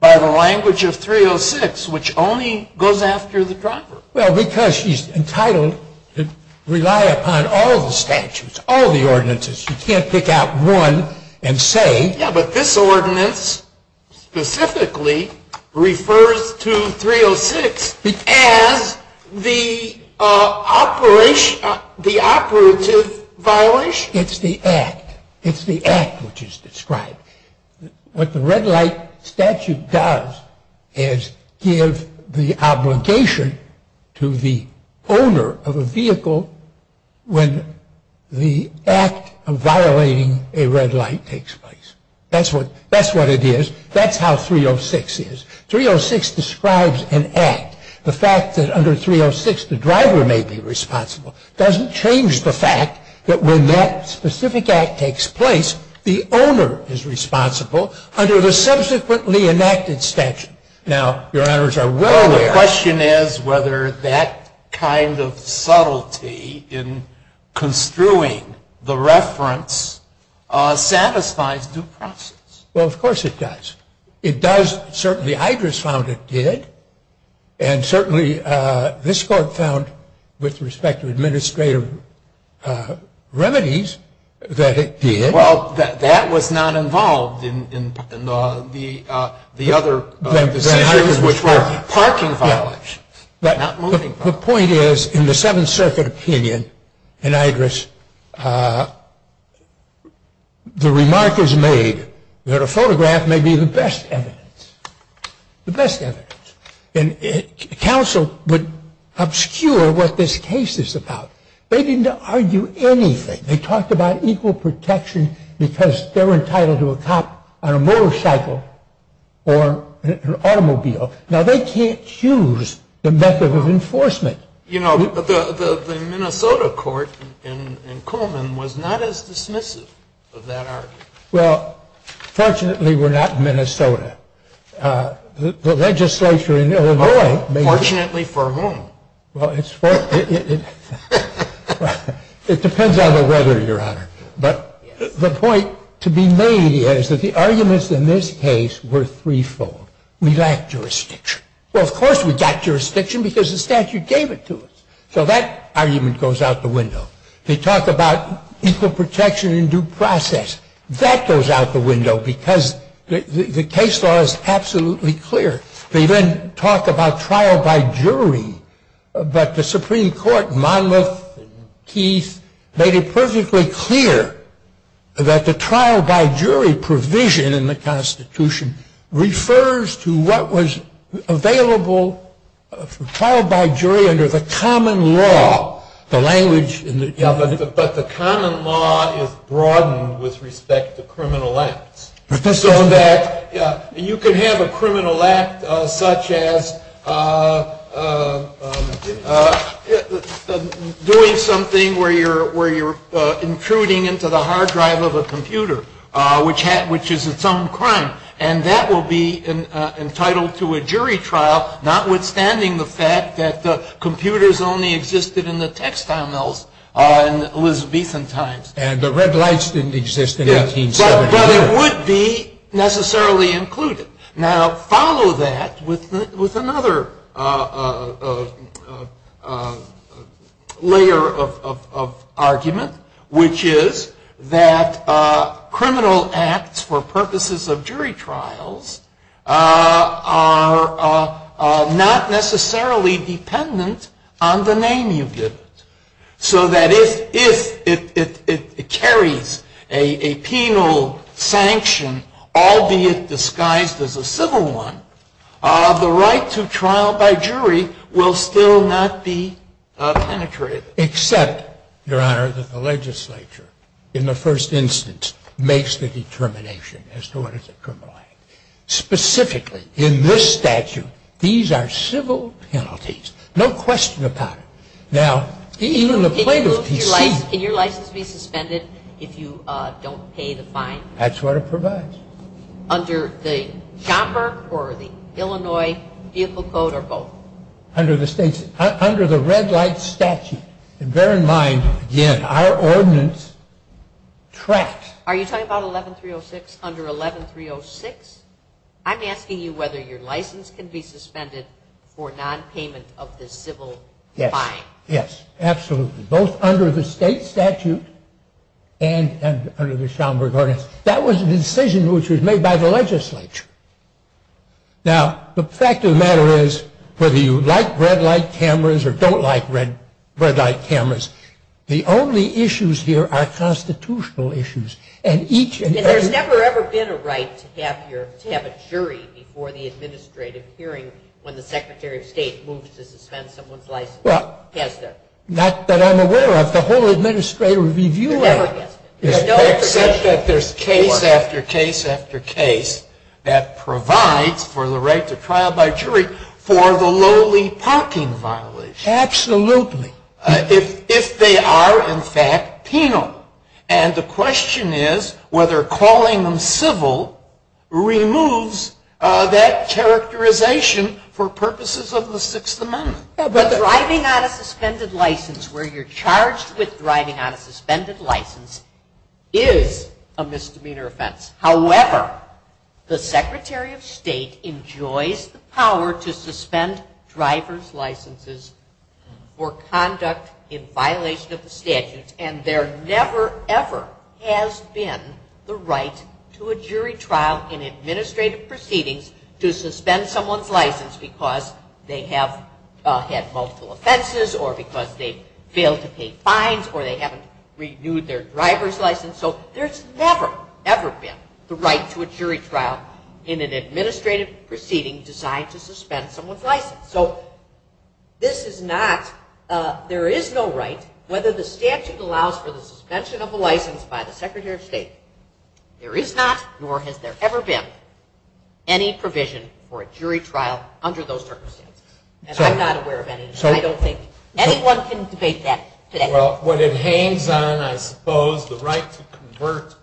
by the language of 306, which only goes after the driver? Well, because she's entitled to rely upon all the statutes, all the ordinances. You can't pick out one and say. Yeah, but this ordinance specifically refers to 306 as the operative violation. It's the act. It's the act which is described. What the red light statute does is give the obligation to the owner of a vehicle when the act of violating a red light takes place. That's what it is. That's how 306 is. 306 describes an act. The fact that under 306 the driver may be responsible doesn't change the fact that when that specific act takes place, the owner is responsible under the subsequently enacted statute. Now, your honors are well aware. The question is whether that kind of subtlety in construing the reference satisfies due process. Well, of course it does. The Idris found it did. And certainly this court found with respect to administrative remedies that it did. Well, that was not involved in the other decisions which were parking violations. The point is in the Seventh Circuit opinion in Idris, the remark is made that a photograph may be the best evidence. The best evidence. And counsel would obscure what this case is about. They didn't argue anything. They talked about equal protection because they're entitled to a cop on a motorcycle or an automobile. Now, they can't choose the method of enforcement. The Minnesota court in Coleman was not as dismissive of that argument. Well, fortunately we're not in Minnesota. The legislature in Illinois may be. Fortunately for whom? It depends on the weather, your honor. But the point to be made is that the arguments in this case were threefold. We lacked jurisdiction. Well, of course we lacked jurisdiction because the statute gave it to us. So that argument goes out the window. They talk about equal protection in due process. That goes out the window because the case law is absolutely clear. They then talk about trial by jury, but the Supreme Court, Monmouth, Keith, made it perfectly clear that the trial by jury provision in the Constitution refers to what was available for trial by jury under the common law, the language in the government. But the common law is broadened with respect to criminal acts. You can have a criminal act such as doing something where you're intruding into the hard drive of a computer, which is its own crime, and that will be entitled to a jury trial, notwithstanding the fact that computers only existed in the textile mills in Elizabethan times. And the red lights didn't exist in 1870. So it would be necessarily included. Now, follow that with another layer of argument, which is that criminal acts for purposes of jury trials are not necessarily dependent on the name you give it. So that if it carries a penal sanction, albeit disguised as a civil one, the right to trial by jury will still not be penetrated. Except, Your Honor, that the legislature, in the first instance, makes the determination as to what is a criminal act. Specifically, in this statute, these are civil penalties, no question about it. Can your license be suspended if you don't pay the fine? That's what it provides. Under the Joppa or the Illinois vehicle code or both? Under the red light statute. And bear in mind, again, our ordinance tracks. Are you talking about 11306? Under 11306? I'm asking you whether your license can be suspended for nonpayment of the civil fine. Yes, absolutely. Both under the state statute and under the Schomburg ordinance. That was a decision which was made by the legislature. Now, the fact of the matter is, whether you like red light cameras or don't like red light cameras, the only issues here are constitutional issues. And there's never, ever been a right to have a jury before the administrative hearing when the Secretary of State moves to suspend someone's license. Well, not that I'm aware of. The whole administrative review of it. There's case after case after case that provides for the right to trial by jury for the lowly parking violence. Absolutely. If they are, in fact, penal. And the question is whether calling them civil removes that characterization for purposes of the Sixth Amendment. Driving on a suspended license, where you're charged with driving on a suspended license, is a misdemeanor offense. However, the Secretary of State enjoys the power to suspend driver's licenses for conduct in violation of the statute. And there never, ever has been the right to a jury trial in an administrative proceeding to suspend someone's license because they have had multiple offenses or because they failed to pay fines or they haven't renewed their driver's license. So, there's never, ever been the right to a jury trial in an administrative proceeding designed to suspend someone's license. So, this is not, there is no right, whether the statute allows for the suspension of a license by the Secretary of State. There is not, nor has there ever been, any provision for a jury trial under those circumstances. And I'm not aware of any, and I don't think anyone can debate that today. Well, what it hangs on, I suppose, the right to convert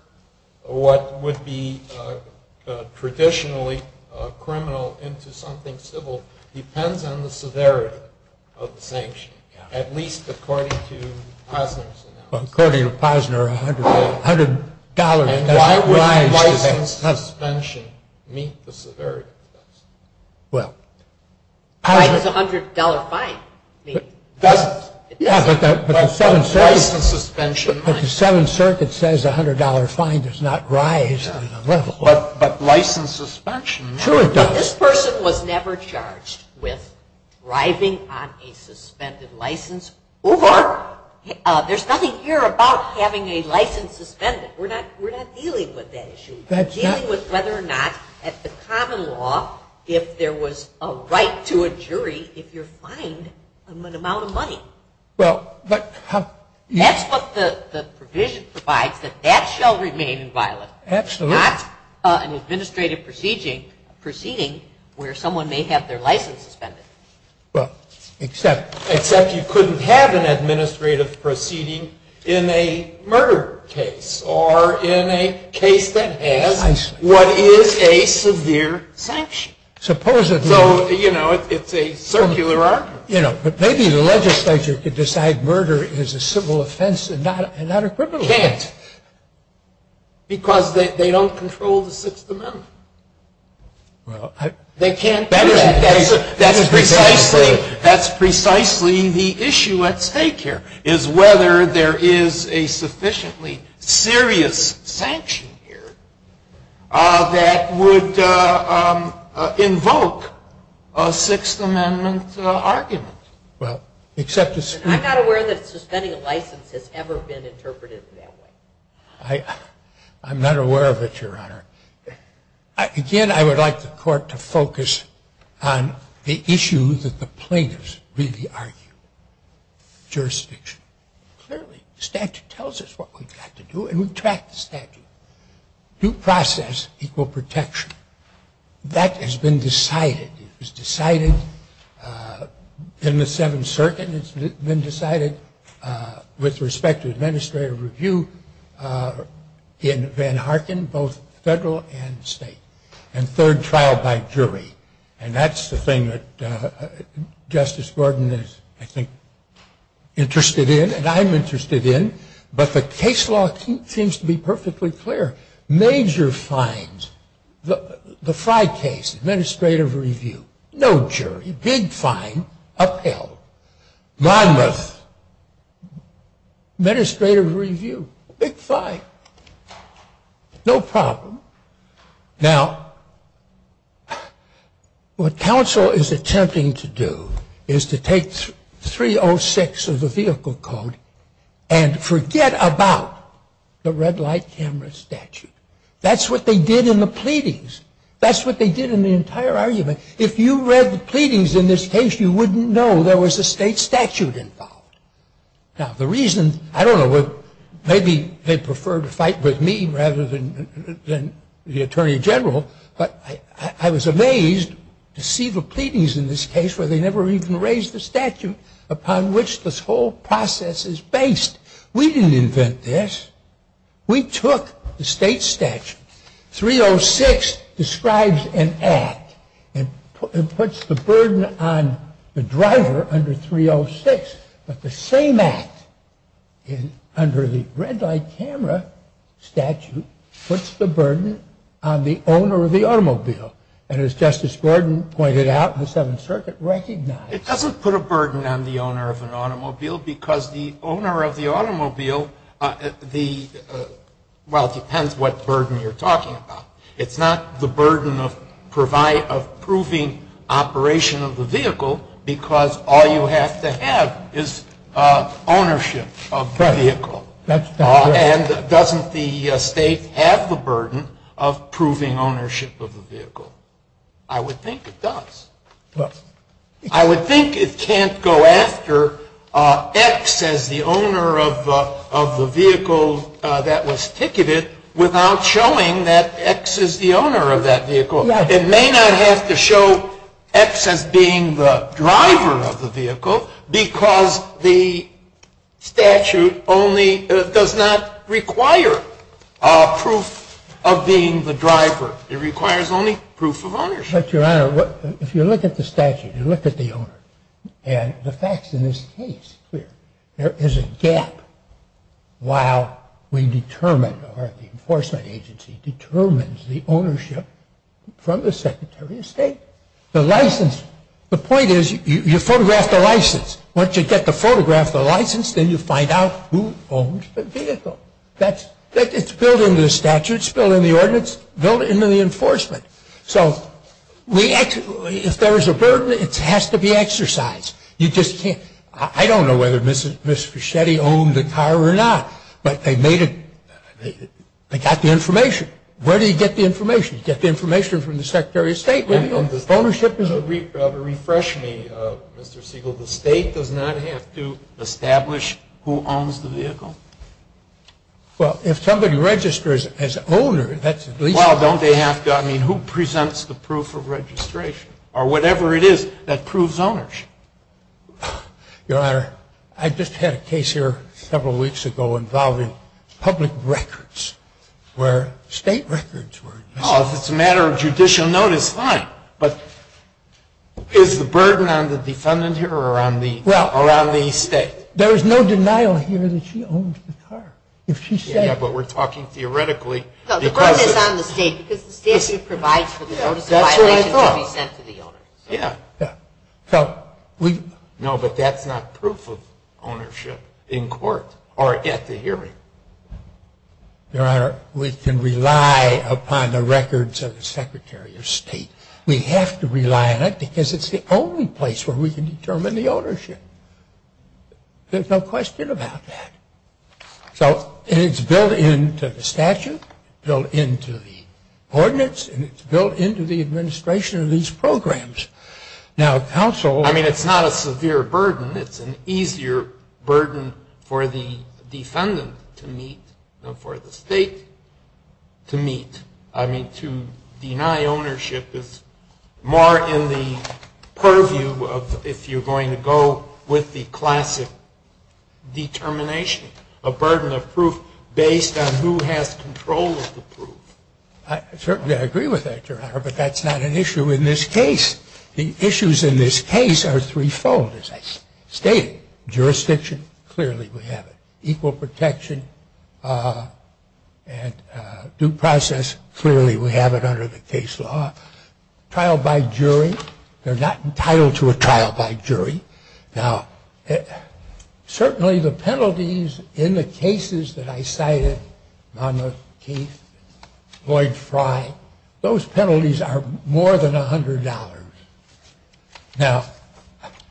what would be traditionally criminal into something civil depends on the severity of the sanction, at least according to Posner's analysis. According to Posner, $100, $100. A driver's license suspension meets the severity of the sanction. What? A $100 fine, maybe. Yeah, but the Seventh Circuit. License suspension. But the Seventh Circuit says a $100 fine does not rise on a level. But license suspension. Sure it does. This person was never charged with rising on a suspended license or there's nothing here about having a license suspended. We're not dealing with that issue. We're dealing with whether or not, at the common law, if there was a right to a jury if you're fined an amount of money. Well, but how? That's what the provision provides, that that shall remain in violence. Absolutely. Not an administrative proceeding where someone may have their license suspended. Except you couldn't have an administrative proceeding in a murder case or in a case that has what is a severe sanction. Supposedly. So, you know, it's a circular argument. But maybe the legislature could decide murder is a civil offense and not a criminal offense. Because they don't control the Sixth Amendment. They can't do that. That is precisely the issue at stake here, is whether there is a sufficiently serious sanction here that would invoke a Sixth Amendment argument. I'm not aware that suspending a license has ever been interpreted that way. I'm not aware of it, Your Honor. Again, I would like the court to focus on the issues that the plaintiffs really argue. Jurisdiction. Clearly, statute tells us what we've got to do, and we've tracked the statute. Due process equal protection. That has been decided. It was decided in the Seventh Circuit. It's been decided with respect to administrative review in Van Harken, both federal and state. And third trial by jury. And that's the thing that Justice Gordon is, I think, interested in, and I'm interested in. But the case law seems to be perfectly clear. Major fines. The five cases. Administrative review. No jury. Big fine. Upheld. My mother. Administrative review. Big fine. No problem. Now, what counsel is attempting to do is to take 306 of the vehicle code and forget about the red light camera statute. That's what they did in the pleadings. That's what they did in the entire argument. If you read the pleadings in this case, you wouldn't know there was a state statute involved. Now, the reason, I don't know, maybe they prefer to fight with me rather than the Attorney General, but I was amazed to see the pleadings in this case where they never even raised the statute upon which this whole process is based. We didn't invent this. We took the state statute. 306 describes an act and puts the burden on the driver under 306. But the same act under the red light camera statute puts the burden on the owner of the automobile. And as Justice Gordon pointed out in the Seventh Circuit, recognized. It doesn't put a burden on the owner of an automobile because the owner of the automobile, well, it depends what burden you're talking about. It's not the burden of proving operation of the vehicle because all you have to have is ownership of the vehicle. And doesn't the state have the burden of proving ownership of the vehicle? I would think it does. I would think it can't go after X as the owner of the vehicle that was ticketed without showing that X is the owner of that vehicle. It may not have to show X as being the driver of the vehicle because the statute only does not require proof of being the driver. It requires only proof of ownership. But, Your Honor, if you look at the statute, you look at the owner, and the facts in this case, there is a gap while we determine or the enforcement agency determines the ownership from the Secretary of State. The license, the point is you photograph the license. Once you get the photograph of the license, then you find out who owns the vehicle. It's built into the statute. It's built into the ordinance. It's built into the enforcement. So, if there is a burden, it has to be exercised. You just can't. I don't know whether Ms. Fischetti owned the car or not, but they made it. They got the information. Where do you get the information? You get the information from the Secretary of State. The ownership is a... To refresh me, Mr. Siegel, the state does not have to establish who owns the vehicle. Well, if somebody registers as owner, that's... Well, don't they have to? I mean, who presents the proof of registration or whatever it is that proves ownership? Your Honor, I just had a case here several weeks ago involving public records where state records were... Oh, if it's a matter of judicial notice, fine. But is the burden on the defendant here or on the state? Well, there is no denial here that she owned the car. If she said... Yeah, but we're talking theoretically. So the burden is on the state because the state should provide for the ownership. That's what I thought. Yeah. So we... No, but that's not proof of ownership in court or at the hearing. Your Honor, we can rely upon the records of the Secretary of State. We have to rely on it because it's the only place where we can determine the ownership. There's no question about that. So it's built into the statute, built into the ordinance, and it's built into the administration of these programs. Now, counsel... I mean, it's not a severe burden. It's an easier burden for the defendant to meet and for the state to meet. I mean, to deny ownership is more in the purview of if you're going to go with the classic determination, a burden of proof based on who has control of the proof. Certainly, I agree with that, Your Honor, but that's not an issue in this case. The issues in this case are threefold, as I stated. Okay. Jurisdiction, clearly we have it. Equal protection and due process, clearly we have it under the case law. Trial by jury, they're not entitled to a trial by jury. Now, certainly the penalties in the cases that I cited, Monmouth, Keith, Floyd, Fry, those penalties are more than $100. Now,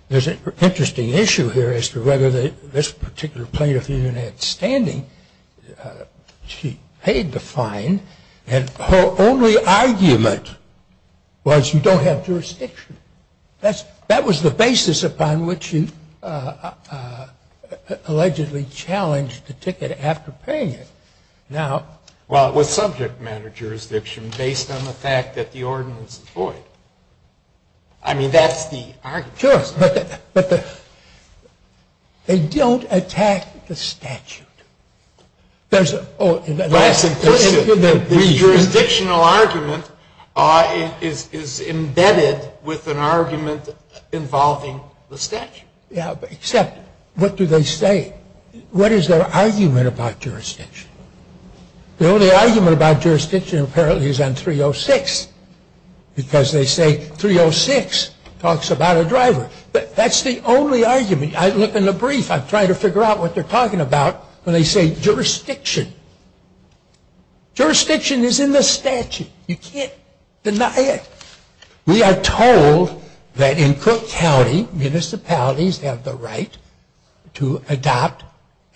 there's an interesting issue here as to whether this particular plaintiff even had standing. She paid the fine, and her only argument was you don't have jurisdiction. That was the basis upon which she allegedly challenged the ticket after paying it. Well, it was subject matter jurisdiction based on the fact that the ordinance was void. I mean, that's the argument. Sure, but they don't attack the statute. Right. The jurisdictional argument is embedded with an argument involving the statute. Yeah, except what do they say? What is their argument about jurisdiction? The only argument about jurisdiction apparently is on 306, because they say 306 talks about a driver. But that's the only argument. I looked in the brief. I'm trying to figure out what they're talking about when they say jurisdiction. Jurisdiction is in the statute. You can't deny it. We are told that in Crook County, municipalities have the right to adopt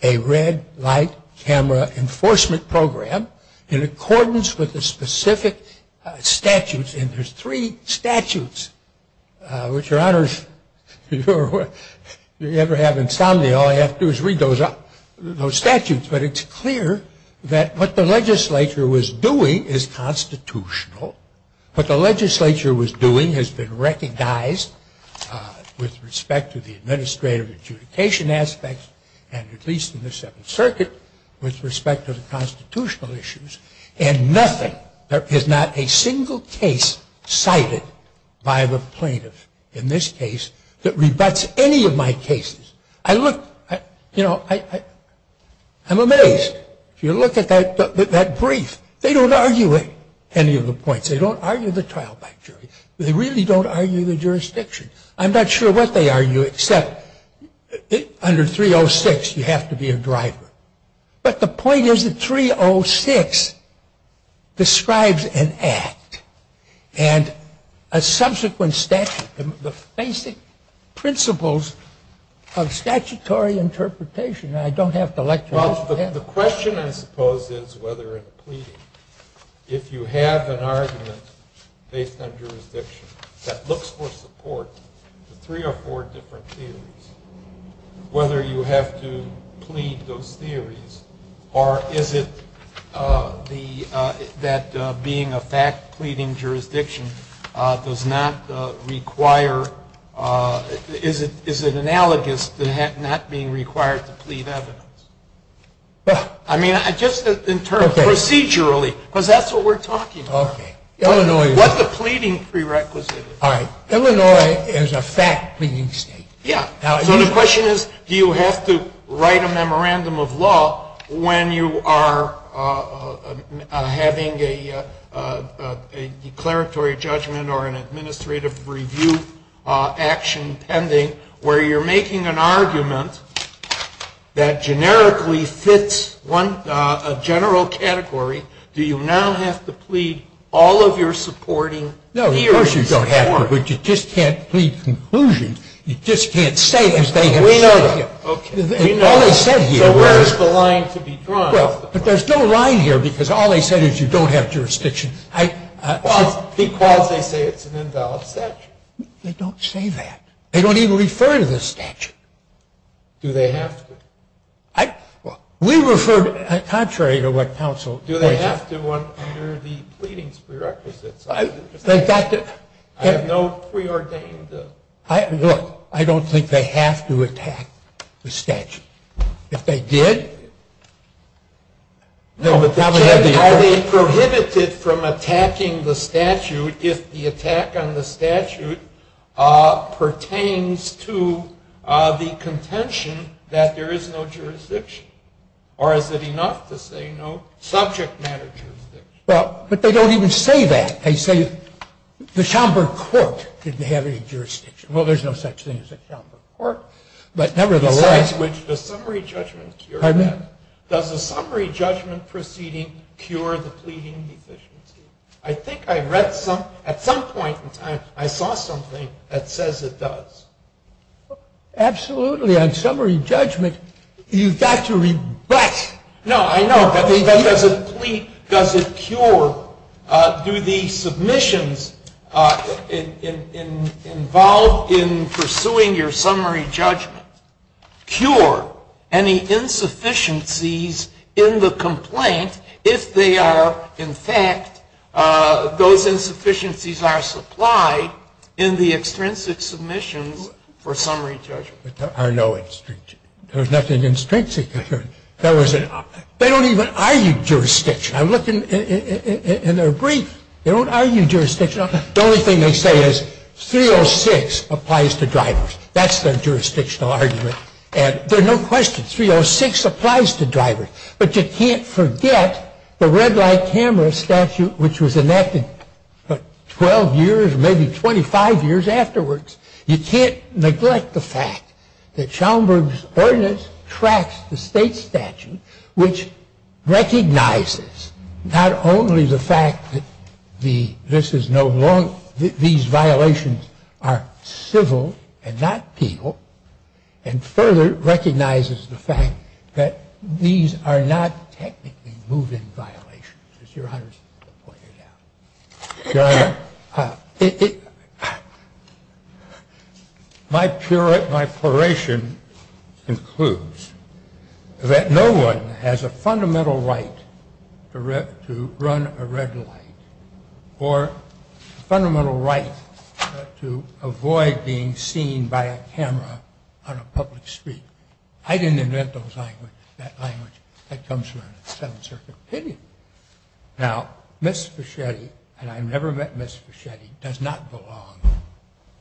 a red light camera enforcement program in accordance with the specific statutes. And there's three statutes, which, Your Honor, if you ever have insomnia, all you have to do is read those statutes. But it's clear that what the legislature was doing is constitutional. What the legislature was doing has been recognized with respect to the administrative adjudication aspects, and at least in the Seventh Circuit, with respect to the constitutional issues. And nothing, there is not a single case cited by the plaintiff in this case that rebutts any of my cases. I look, you know, I'm amazed. If you look at that brief, they don't argue any of the points. They don't argue the trial by jury. They really don't argue the jurisdiction. I'm not sure what they argue, except under 306, you have to be a driver. But the point is that 306 describes an act and a subsequent statute, the basic principles of statutory interpretation. Well, the question, I suppose, is whether a plea, if you have an argument based on jurisdiction that looks for support to three or four different theories, whether you have to plead those theories, or is it that being a fact-pleading jurisdiction does not require, is it analogous to not being required to plead evidence? I mean, just in terms of procedurally, because that's what we're talking about. What the pleading prerequisite is. All right. Illinois is a fact-pleading state. Yeah. Now, the question is, do you have to write a memorandum of law when you are having a declaratory judgment or an administrative review action pending where you're making an argument that generically fits a general category? Do you now have to plead all of your supporting theories? No, of course you don't have to. But you just can't plead conclusions. You just can't say that they have a statute. We know that. Okay. We know that. But where is the line to be drawn? But there's no line here, because all they say is you don't have jurisdiction. Because they say it's an invalid statute. They don't say that. They don't even refer to the statute. Do they have to? We refer to it contrary to what counsel says. Do they have to under the pleading prerequisite? They've got to. I have no preordained to. Look, I don't think they have to attack the statute. If they did. Are they prohibited from attacking the statute if the attack on the statute pertains to the contention that there is no jurisdiction? Or is it enough to say no subject matter jurisdiction? Well, but they don't even say that. They say the Schomburg Court didn't have any jurisdiction. Well, there's no such thing as a Schomburg Court. But nevertheless. Does the summary judgment proceeding cure the pleading deficiency? I think I read some, at some point in time, I saw something that says it does. Absolutely. On summary judgment, you've got to rebut. No, I know. But does it plead, does it cure, do the submissions involved in pursuing your summary judgment cure any insufficiencies in the complaint, if they are, in fact, those insufficiencies are supplied in the extrinsic submission for summary judgment? I know it's extrinsic. There's nothing extrinsic. They don't even argue jurisdiction. I looked in their brief. They don't argue jurisdiction. The only thing they say is 306 applies to drivers. That's their jurisdictional argument. There are no questions. 306 applies to drivers. But you can't forget the red light camera statute, which was enacted 12 years, maybe 25 years afterwards. You can't neglect the fact that Schaumburg's ordinance tracks the state statute, which recognizes not only the fact that this is no longer, these violations are civil and not legal, and further recognizes the fact that these are not technically move-in violations. So my curation includes that no one has a fundamental right to run a red light, or a fundamental right to avoid being seen by a camera on a public street. I didn't invent that language that comes from the Seventh Circuit opinion. Now, Ms. Fischetti, and I've never met Ms. Fischetti, does not belong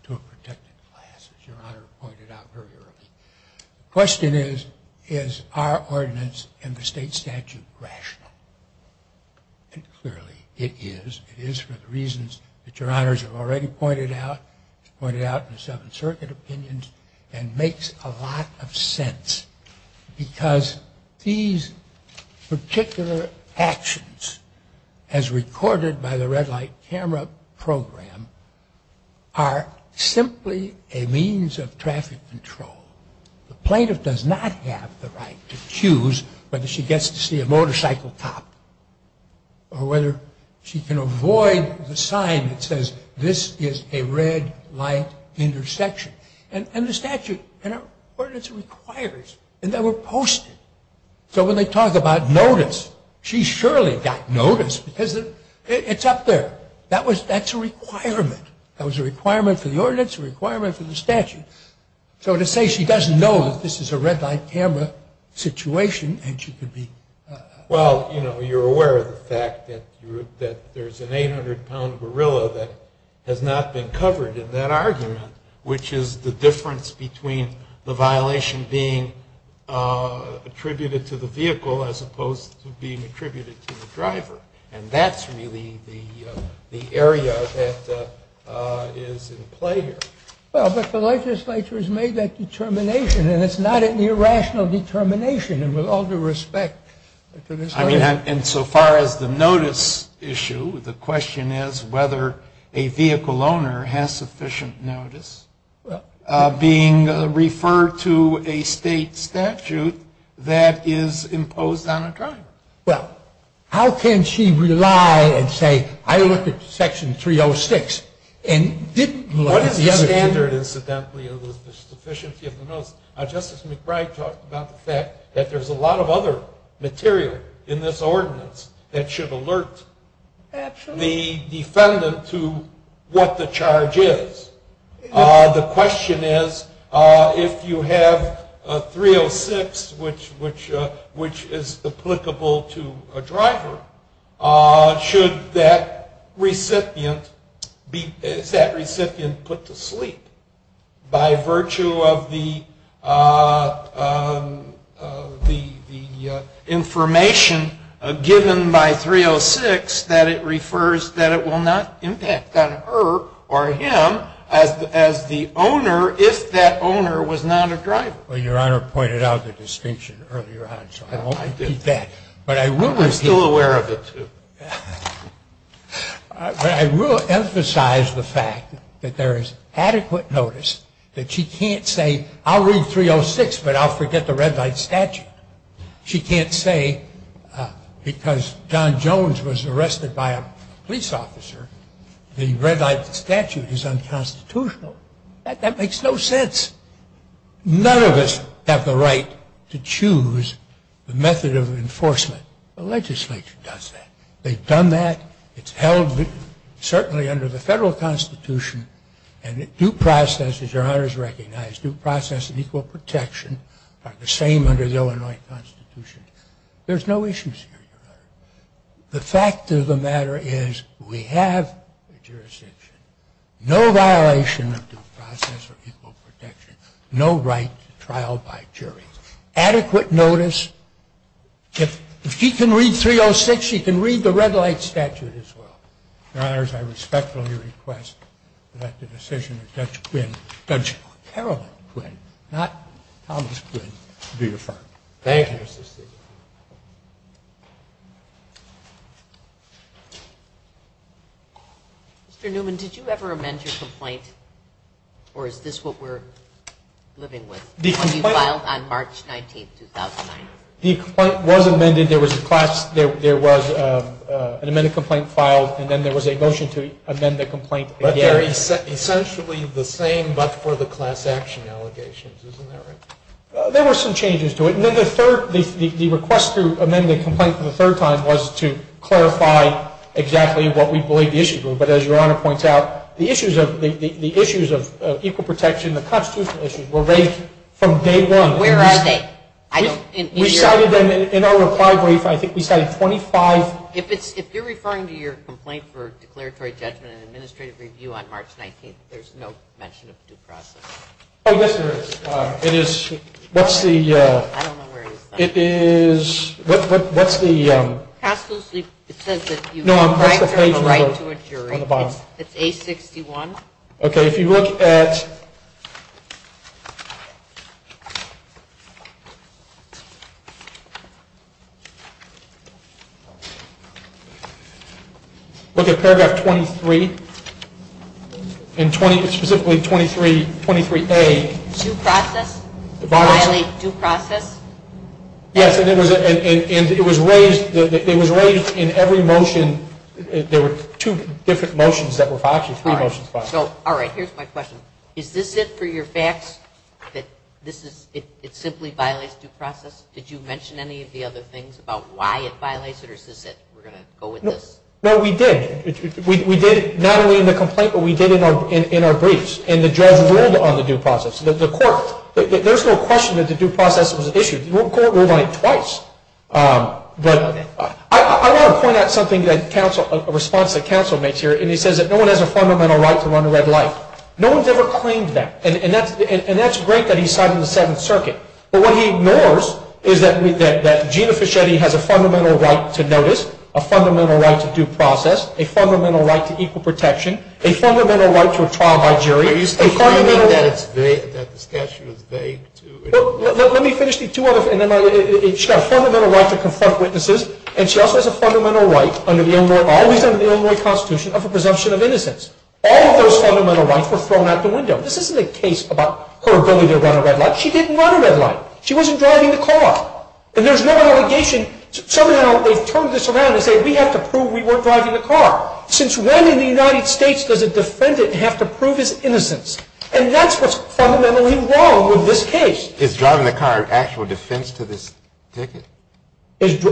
to a protected class, as Your Honor pointed out earlier. The question is, is our ordinance in the state statute rational? And clearly it is. It is for the reasons that Your Honors have already pointed out, pointed out in the Seventh Circuit opinions, and makes a lot of sense. Because these particular actions, as recorded by the red light camera program, are simply a means of traffic control. The plaintiff does not have the right to choose whether she gets to see a motorcycle cop, or whether she can avoid the sign that says, this is a red light intersection. And the statute, the ordinance requires, and they were posted. So when they talk about notice, she surely got notice, because it's up there. That's a requirement. That was a requirement for the ordinance, a requirement for the statute. So to say she doesn't know that this is a red light camera situation, and she could be... Well, you know, you're aware of the fact that there's an 800-pound gorilla that has not been covered in that argument, which is the difference between the violation being attributed to the vehicle as opposed to being attributed to the driver. And that's really the area that is in play here. Well, but the legislature has made that determination, and it's not an irrational determination with all due respect. I mean, insofar as the notice issue, the question is whether a vehicle owner has sufficient notice being referred to a state statute that is imposed on a driver. Well, how can she rely and say, I looked at Section 306, and didn't look at the other... What is the standard, incidentally, of the sufficiency of the notice? Justice McBride talked about the fact that there's a lot of other material in this ordinance that should alert the defendant to what the charge is. The question is, if you have 306, which is applicable to a driver, should that recipient be put to sleep by virtue of the information given by 306 that it refers that it will not impact on her or him as the owner if that owner was not a driver? Well, Your Honor pointed out the distinction earlier on, so I won't repeat that. I'm still aware of it, too. But I will emphasize the fact that there is adequate notice that she can't say, I'll read 306, but I'll forget the red light statute. She can't say, because John Jones was arrested by a police officer, the red light statute is unconstitutional. That makes no sense. None of us have the right to choose the method of enforcement. The legislature does that. They've done that. It's held certainly under the federal constitution, and due process, as Your Honor has recognized, due process and equal protection are the same under the Illinois constitution. There's no issues here. The fact of the matter is we have jurisdiction. No violation of due process or equal protection. No right to trial by jury. Adequate notice. If she can read 306, she can read the red light statute as well. Your Honors, I respectfully request that the decision of Judge Quinn, Judge Harold Quinn, not Thomas Quinn, be affirmed. Thank you. Thank you. Mr. Newman, did you ever amend your complaint? Or is this what we're living with? It was filed on March 19, 2009. The complaint was amended. There was a class, there was an amended complaint filed, and then there was a motion to amend the complaint. But they're essentially the same but for the class action allegations, isn't that right? There were some changes to it. And then the third, the request to amend the complaint for the third time was to clarify exactly what we believe the issues were. But as Your Honor points out, the issues of equal protection, the constitutional issues were raised from day one. Where are they? We cited them in our reply brief. I think we cited 25. If you're referring to your complaint for declaratory judgment and administrative review on March 19, there's no mention of due process. Oh, yes, there is. It is, what's the, it is, what's the... It says that you... No, that's the page number on the bottom. It's 861. Okay, if you look at... 23A. Due process? Violates due process? Yes, and it was raised, it was raised in every motion. There were two different motions that were filed, three motions filed. All right, here's my question. Is this it for your facts, that this is, it simply violates due process? Did you mention any of the other things about why it violates it or is this it? We're going to go with this? No, we did. We did, not only in the complaint, but we did in our briefs, and the judge ruled on the due process. The court, there's no question that the due process was an issue. The court ruled on it twice. I want to point out something that counsel, a response that counsel makes here, and he says that no one has a fundamental right to run a red light. No one's ever claimed that, and that's great that he's citing the Seventh Circuit, but what he ignores is that Gina Fischetti has a fundamental right to notice, a fundamental right to due process, a fundamental right to equal protection, a fundamental right to a trial by jury, a fundamental right to a trial by jury, and she also has a fundamental right under the Illinois Constitution of the presumption of innocence. All of those fundamental rights were thrown out the window. This isn't a case about her ability to run a red light. She didn't run a red light. She wasn't driving the car. And there's no obligation to turn this around and say, we have to prove we weren't driving the car. Since when in the United States does a defendant have to prove his innocence? And that's what's fundamentally wrong with this case. Is driving the car an actual defense to the Seventh Circuit? Is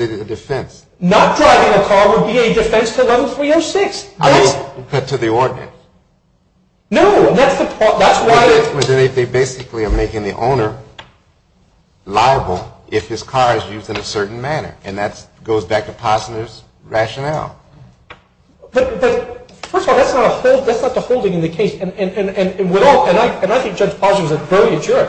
it a defense? Not driving a car would be a defense to 11306. To the ordinance? No, and that's the point. They basically are making the owner liable if his car is used in a certain manner, and that goes back to Posner's rationale. But, first of all, that's not a holding in the case, and I think Judge Posner is very mature.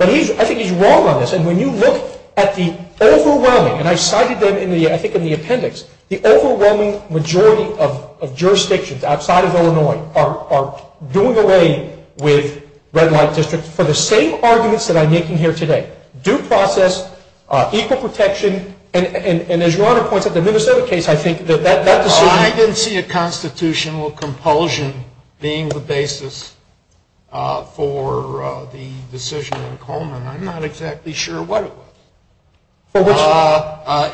I think he's wrong on this, and when you look at the overwhelming, and I cited them in the appendix, the overwhelming majority of jurisdictions outside of Illinois are doing away with red light districts for the same arguments that I'm making here today. Due process, equal protection, and as you already pointed out, the Minnesota case, I think that that decision. I didn't see a constitutional compulsion being the basis for the decision in Coleman. I'm not exactly sure what it was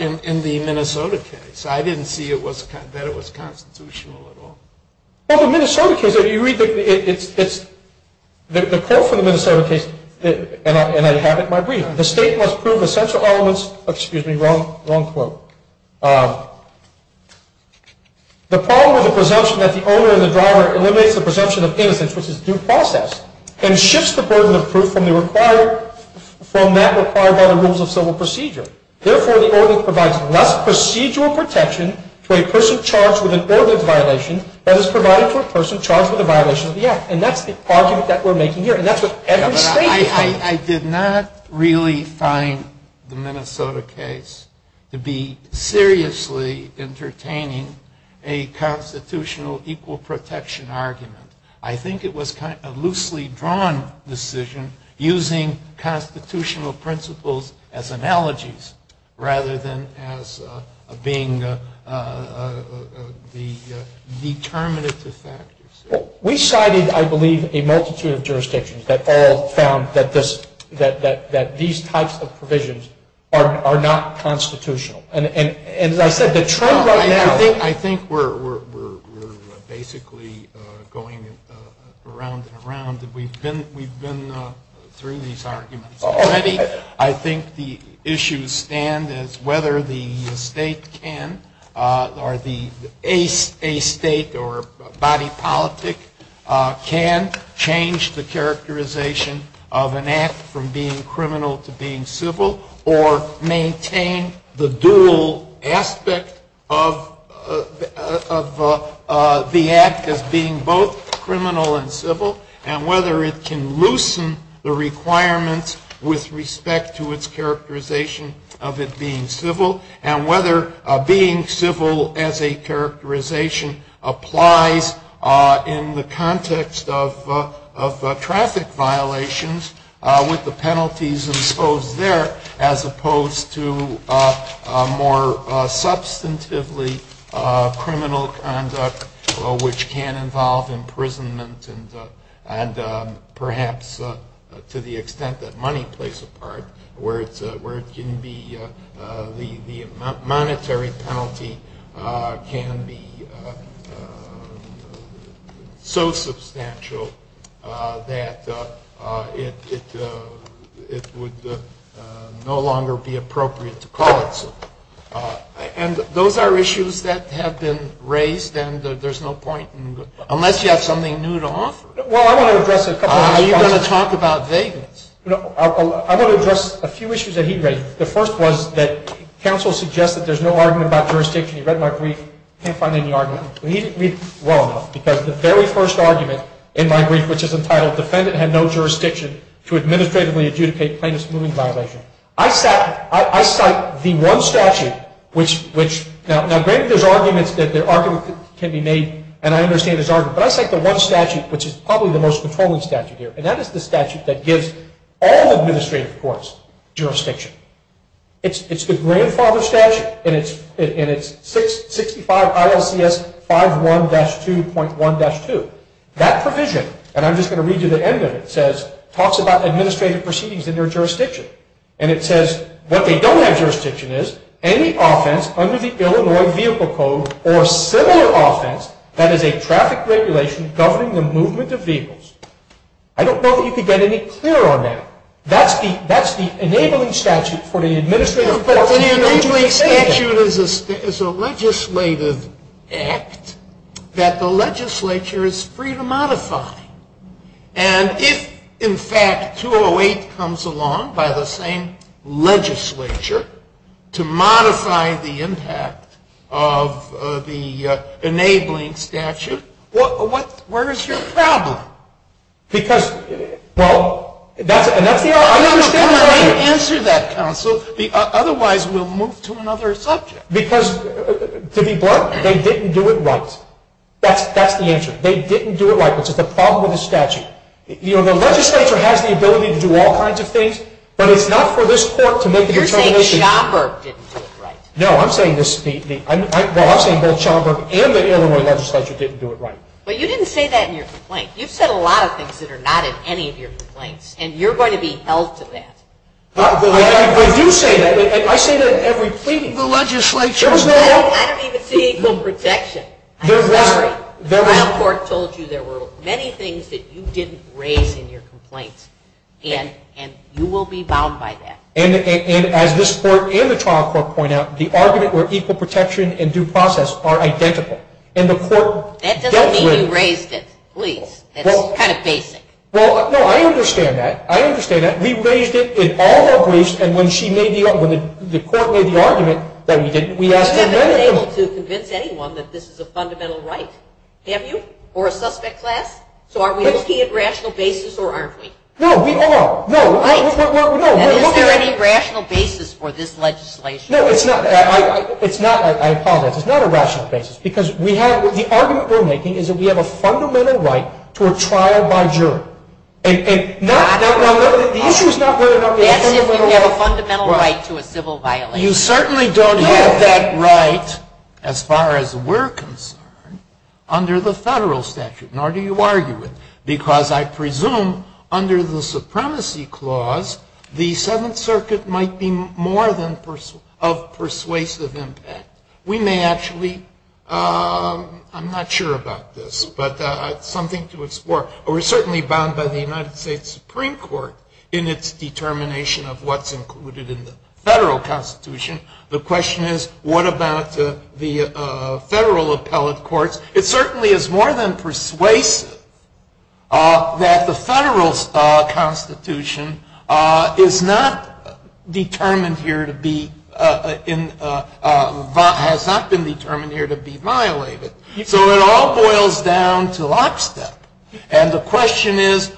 in the Minnesota case. I didn't see that it was constitutional at all. Well, the Minnesota case, if you read the course of the Minnesota case, and I have it in my brief, the state must prove essential elements of, excuse me, wrong quote, the following presumption that the owner and the driver eliminates the presumption of benefits, which is due process, and shifts the burden of proof from that required by the rules of civil procedure. Therefore, this ordinance provides less procedural protection to a person charged with a federal violation than is provided for a person charged with a violation of the act, and that's the argument that we're making here, and that's what every state is saying. I did not really find the Minnesota case to be seriously entertaining a constitutional equal protection argument. I think it was kind of a loosely drawn decision using constitutional principles as analogies rather than as being the determinative factors. We cited, I believe, a multitude of jurisdictions that all found that these types of provisions are not constitutional, and like I said, the trend right now is... I think we're basically going around and around. We've been through these arguments. I think the issues stand as whether the state can, or a state or body politic, can change the characterization of an act from being criminal to being civil, or maintain the dual aspect of the act of being both criminal and civil, and whether it can loosen the requirement with respect to its characterization of it being civil, and whether being civil as a characterization applies in the context of traffic violations with the penalties exposed there, as opposed to more substantively criminal conduct which can involve imprisonment and perhaps to the extent that money plays a part, where the monetary penalty can be so substantial that it would no longer be appropriate to call it so. And those are issues that have been raised, and there's no point in... Unless you have something new to offer. Well, I want to address a couple of things. Are you going to talk about vagueness? I want to address a few issues that he raised. The first was that counsel suggested there's no argument about jurisdiction. He read my brief, can't find any argument. And he's wrong, because the very first argument in my brief, which is entitled Defendant had no jurisdiction to administratively adjudicate plaintiff's moving violation. I cite the one statute, which... Now, granted there's arguments, that arguments can be made, and I understand there's arguments, but I cite the one statute, which is probably the most controlling statute here, and that is the statute that gives all administrative courts jurisdiction. It's the grandfather statute, and it's 65 ILCS 51-2.1-2. That provision, and I'm just going to read you the end of it, talks about administrative proceedings in your jurisdiction, and it says what they don't have jurisdiction is any offense under the Illinois Vehicle Code or similar offense that is a traffic regulation governing the movement of vehicles. I don't know if you can get any clearer on that. That's the enabling statute for the administrative court. The enabling statute is a legislative act that the legislature is free to modify. And if, in fact, 208 comes along by the same legislature to modify the impact of the enabling statute, where is your problem? Because, well, that's the argument. I'm not going to answer that counsel, otherwise we'll move to another subject. Because to be blunt, they didn't do it right. That's the answer. They didn't do it right. This is the problem with the statute. You know, the legislature has the ability to do all kinds of things, but it's not for this court to make a determination. You're saying Schauburg didn't do it right. No, I'm saying both Schauburg and the Illinois legislature didn't do it right. But you didn't say that in your complaint. You said a lot of things that are not in any of your complaints, and you're going to be held to that. But you say that. I say that in every plea to the legislature. I don't even see equal protection. The trial court told you there were many things that you didn't raise in your complaint, and you will be bound by that. And as this court and the trial court point out, the argument for equal protection and due process are identical. That doesn't mean you raised it. Please. That's kind of basic. No, I understand that. I understand that. We raised it in all our pleas, and when the court made the argument that we didn't, we asked them to raise it. You haven't been able to convince anyone that this is a fundamental right, have you, or a suspect class? So are we looking at a rational basis or aren't we? No, we are. No. Is there any rational basis for this legislation? No, it's not. I apologize. It's not a rational basis, because the argument we're making is that we have a fundamental right to a trial by jury. No, the issue is not whether or not we have a fundamental right to a civil violation. You certainly don't have that right, as far as we're concerned, under the federal statute, nor do you argue it, because I presume under the supremacy clause, the Seventh Circuit might be more than of persuasive impact. We may actually, I'm not sure about this, but something to explore. We're certainly bound by the United States Supreme Court in its determination of what's included in the federal constitution. The question is, what about the federal appellate courts? It certainly is more than persuasive that the federal constitution is not determined here to be, has not been determined here to be violated. So it all boils down to lockstep, and the question is,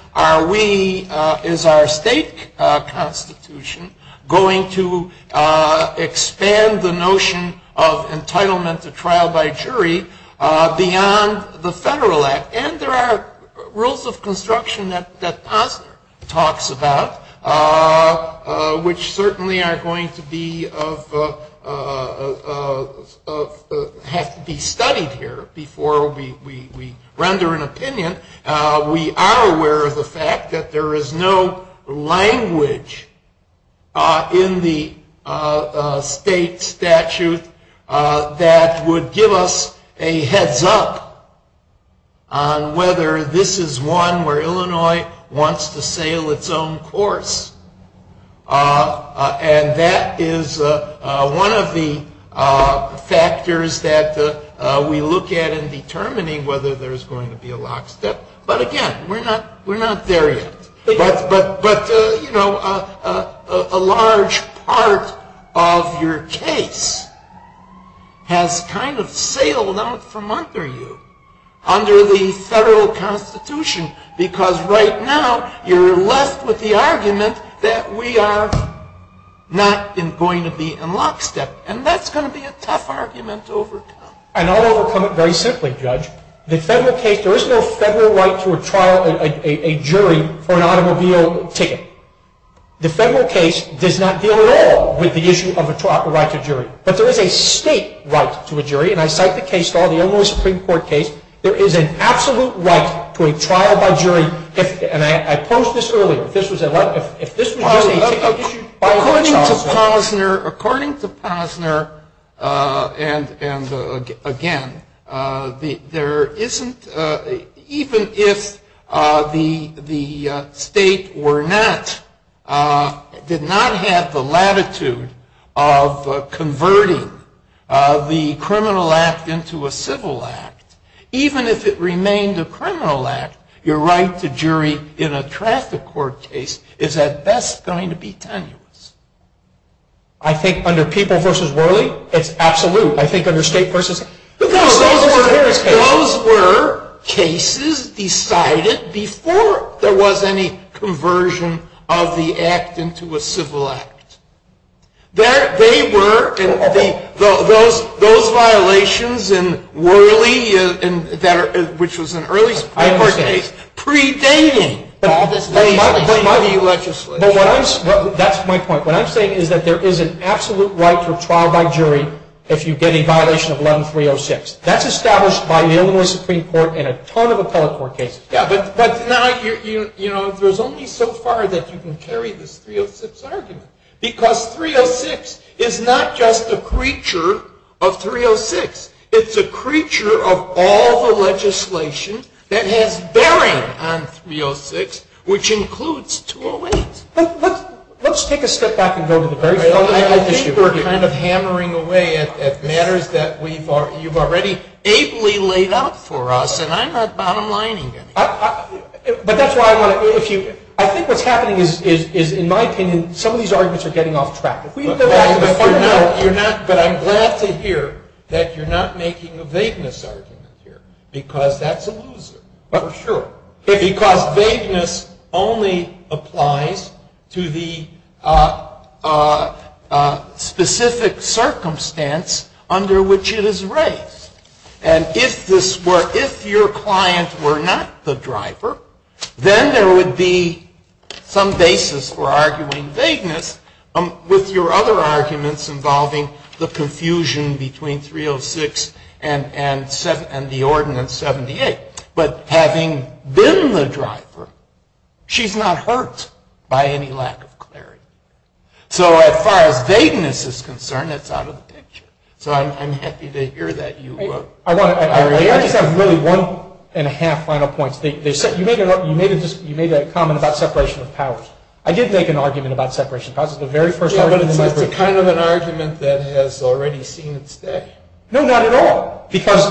is our state constitution going to expand the notion of entitlement to trial by jury beyond the federal act? And there are rules of construction that Paul talks about, which certainly are going to have to be studied here before we render an opinion. We are aware of the fact that there is no language in the state statute that would give us a heads-up on whether this is one where Illinois wants to sail its own course. And that is one of the factors that we look at in determining whether there's going to be a lockstep. But again, we're not there yet. But, you know, a large part of your case has kind of sailed out from under you, under the federal constitution, because right now you're left with the argument that we are not going to be in lockstep. And that's going to be a tough argument to overcome. And I'll overcome it very simply, Judge. The federal case, there is no federal right to a jury for an automobile ticket. The federal case does not deal at all with the issue of the right to jury. But there is a state right to a jury, and I cite the case called the Illinois Supreme Court case. There is an absolute right to a trial by jury. And I posed this earlier. This was a right, but if this was really the issue. According to Posner, and again, even if the state did not have the latitude of converting the criminal act into a civil act, even if it remained a criminal act, your right to jury in a traffic court case is at best going to be tenuous. I think under People v. Worley, it's absolute. I think under State v. Those were cases decided before there was any conversion of the act into a civil act. They were, and those violations in Worley, which was an early state court case, predated all the state court cases. That's my point. What I'm saying is that there is an absolute right for trial by jury if you get a violation of 11-306. That's established by the Illinois Supreme Court in a ton of Apollo Court cases. But now, there's only so far that you can carry this 306 argument. Because 306 is not just a creature of 306. It's a creature of all the legislation that has bearing on 306, which includes 208. Let's take a step back and go to the very first issue. I think we're kind of hammering away at matters that you've already ably laid out for us, and I'm not bottom-lining it. I think what's happening is, in my opinion, some of these arguments are getting off track. But I'm glad to hear that you're not making a vagueness argument here, because that's a loser. For sure. But because vagueness only applies to the specific circumstance under which it is raised. And if your clients were not the driver, then there would be some basis for arguing vagueness with your other arguments involving the confusion between 306 and the ordinance 78. But having been the driver, she's not hurt by any lack of clarity. So, as far as vagueness is concerned, that's out of the picture. So, I'm happy to hear that you agree. I just have really one and a half final points. You made that comment about separation of powers. I did make an argument about separation of powers. It's the very first argument in my brief. It's kind of an argument that is already seen today. No, not at all. Because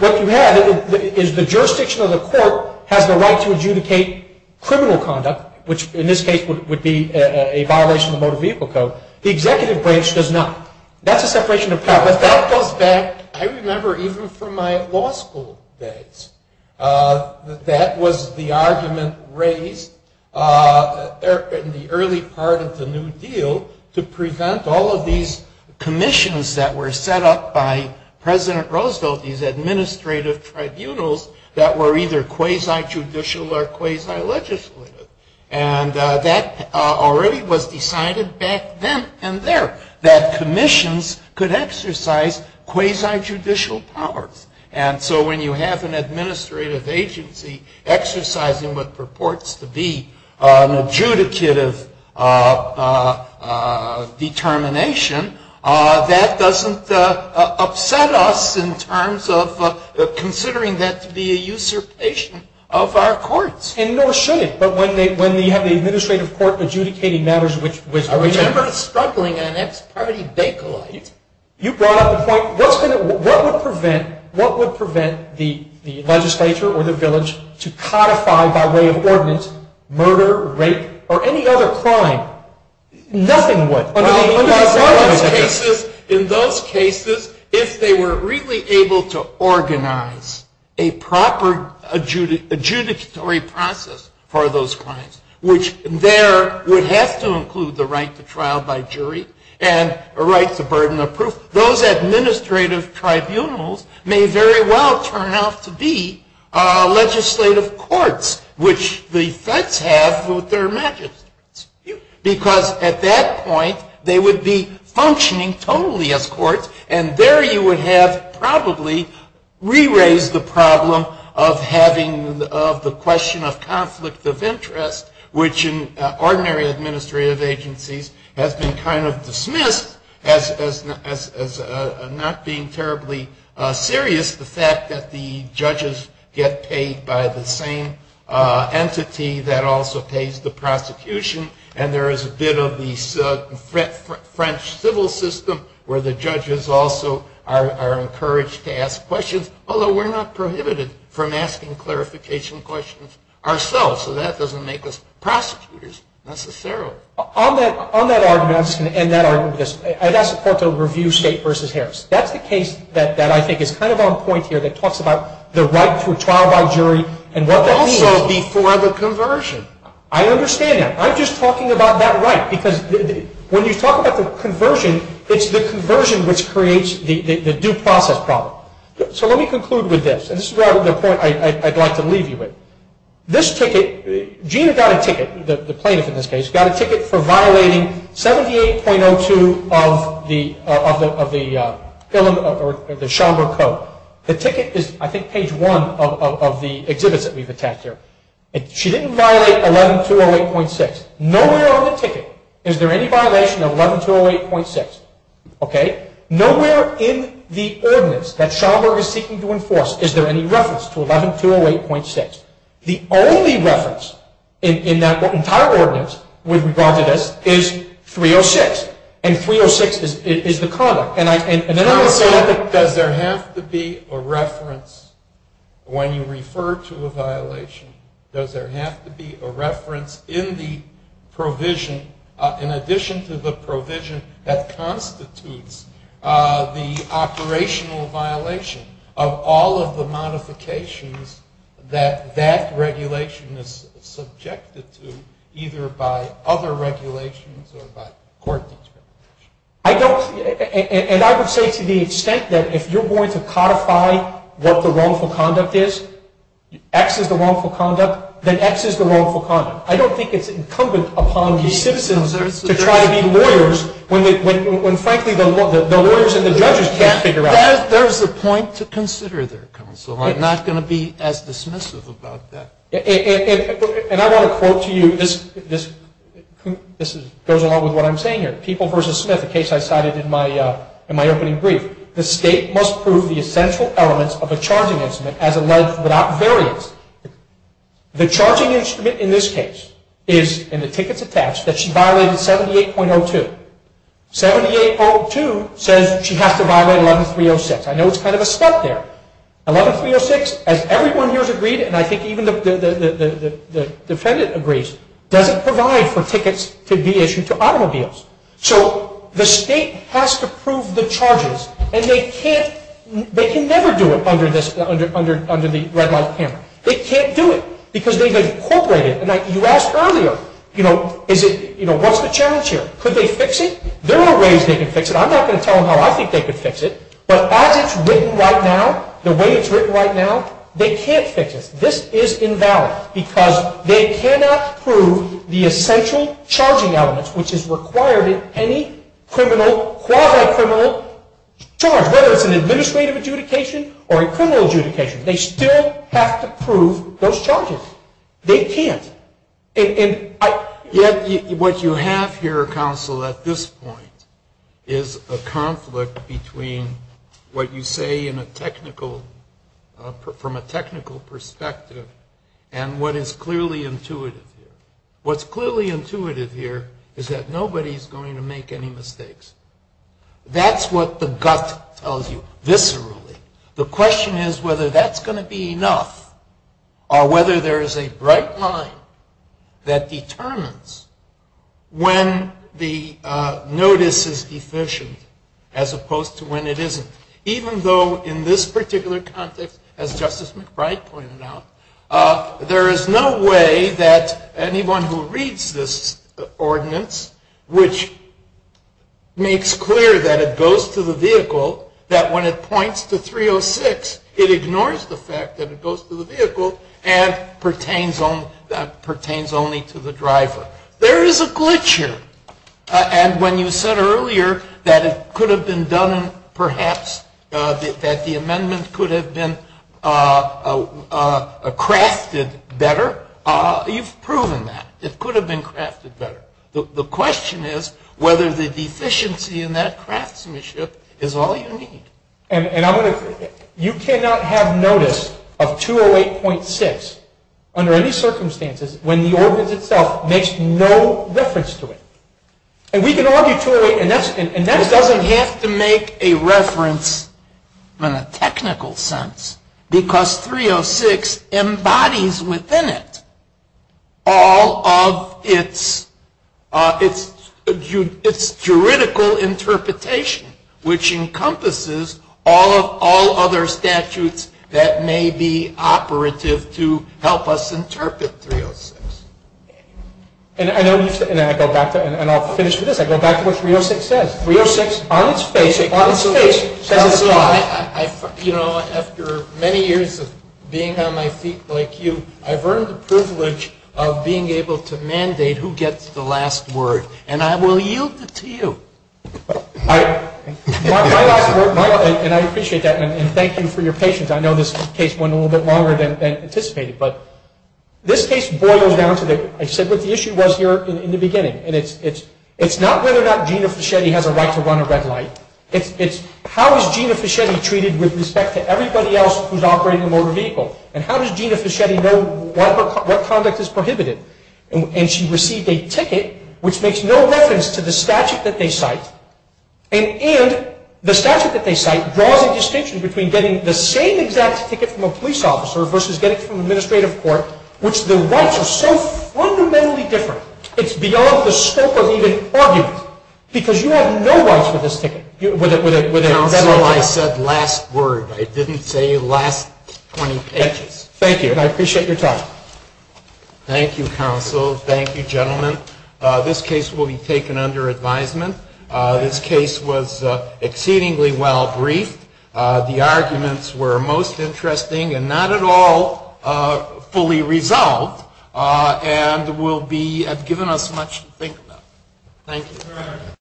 what you had is the jurisdiction of the court has the right to adjudicate criminal conduct, which in this case would be a violation of the motor vehicle code. The executive branch does not. That's a separation of powers. But that goes back, I remember, even from my law school days. That was the argument raised in the early part of the New Deal to prevent all of these commissions that were set up by President Roosevelt, these administrative tribunals, that were either quasi-judicial or quasi-legislative. And that already was decided back then and there, that commissions could exercise quasi-judicial powers. And so when you have an administrative agency exercising what purports to be an adjudicative determination, that doesn't upset us in terms of considering that to be a usurpation of our courts. And nor should it. But when you have the administrative court adjudicating matters, which I remember struggling in, and that's already declined, you brought up the point, what would prevent the legislature or the village to codify by way of ordinance murder, rape, or any other crime? Nothing would. In those cases, if they were really able to organize a proper adjudicatory process for those crimes, which there would have to include the right to trial by jury and a right to burden of proof, those administrative tribunals may very well turn out to be legislative courts, which the feds have with their magistrates. Because at that point, they would be functioning totally as courts, and there you would have probably re-raised the problem of having the question of conflict of interest, which in ordinary administrative agencies has been kind of dismissed as not being terribly serious, and there is the fact that the judges get paid by the same entity that also pays the prosecution, and there is a bit of the French civil system where the judges also are encouraged to ask questions, although we're not prohibited from asking clarification questions ourselves, so that doesn't make us prosecutors necessarily. On that argument, and that argument, I'd ask the court to review State v. Harris. That's the case that I think is kind of on point here that talks about the right to trial by jury, and what that means before the conversion. I understand that. I'm just talking about that right, because when you talk about the conversion, it's the conversion which creates the due process problem. So let me conclude with this, and this is the point I'd like to leave you with. This ticket, Gina got a ticket, the plaintiff in this case, got a ticket for violating 78.02 of the Shelburne Code. The ticket is, I think, page 1 of the exhibit that we've attached here. She didn't violate 11208.6. Nowhere on the ticket is there any violation of 11208.6. Okay? Nowhere in the ordinance that Shelburne is seeking to enforce is there any reference to 11208.6. The only reference in that entire ordinance with regard to this is 306, and 306 is the conduct. And then I would say, does there have to be a reference when you refer to a violation? Does there have to be a reference in the provision, in addition to the provision, that constitutes the operational violation of all of the modifications that that regulation is subjected to, either by other regulations or by court? I don't, and I would say to the extent that if you're going to codify what the wrongful conduct is, X is the wrongful conduct, then X is the wrongful conduct. I don't think it's incumbent upon the citizens to try to be lawyers when, frankly, the lawyers and the judges can't figure out. There is a point to consider there, counsel. I'm not going to be as dismissive about that. And I want to quote to you, this goes along with what I'm saying here. People v. Smith, a case I cited in my opening brief, the state must prove the essential elements of a charging instrument as alleged without variance. The charging instrument in this case is, and the ticket's attached, that she violated 78.02. 78.02 says she has to violate 11306. I know it's kind of a stunt there. 11306, as everyone here has agreed, and I think even the defendant agrees, doesn't provide for tickets to be issued to automobiles. So the state has to prove the charges. And they can't, they can never do it under this, under the red line payment. They can't do it because they've incorporated. And like you asked earlier, you know, is it, you know, what's the challenge here? Could they fix it? There are ways they can fix it. I'm not going to tell them how I think they can fix it. But as it's written right now, the way it's written right now, they can't fix it. This is invalid because they cannot prove the essential charging elements, which is required in any criminal, quasi-criminal charge, whether it's an administrative adjudication or a criminal adjudication. They still have to prove those charges. They can't. And yet what you have here, counsel, at this point is a conflict between what you say in a technical, from a technical perspective and what is clearly intuitive. What's clearly intuitive here is that nobody's going to make any mistakes. That's what the gut tells you viscerally. The question is whether that's going to be enough or whether there is a bright line that determines when the notice is deficient as opposed to when it isn't. Even though in this particular context, as Justice McBride pointed out, there is no way that anyone who reads this ordinance, which makes clear that it goes to the vehicle, that when it points to 306, it ignores the fact that it goes to the vehicle and pertains only to the driver. There is a glitch here. And when you said earlier that it could have been done perhaps, that the amendment could have been crafted better, you've proven that. It could have been crafted better. The question is whether the deficiency in that craftsmanship is all you need. And you cannot have notice of 208.6 under any circumstances when the ordinance itself makes no difference to it. And we can arbitrate, and that doesn't have to make a reference in a technical sense, because 306 embodies within it all of its juridical interpretation, which encompasses all other statutes that may be operative to help us interpret 306. And I'll finish with this. I go back to what 306 says. 306 on its face says, you know, after many years of being on my feet like you, I've earned the privilege of being able to mandate who gets the last word, and I will yield it to you. And I appreciate that, and thank you for your patience. I know this case went a little bit longer than anticipated. But this case boils down to, I said what the issue was here in the beginning, and it's not whether or not Gina Fischetti has a right to run a red light. It's how is Gina Fischetti treated with respect to everybody else who's operating a motor vehicle, and how does Gina Fischetti know what conduct is prohibited? And she received a ticket, which makes no reference to the statute that they cite, and the statute that they cite draws a distinction between getting the same exact ticket from a police officer versus getting it from an administrative court, which the rights are so fundamentally different. It's beyond the scope of even arguing, because you have no rights to this ticket. I said last word. I didn't say last sentence. Thank you, and I appreciate your time. Thank you, counsel. Thank you, gentlemen. This case will be taken under advisement. This case was exceedingly well briefed. The arguments were most interesting and not at all fully resolved, and will be given us much to think about. Thank you.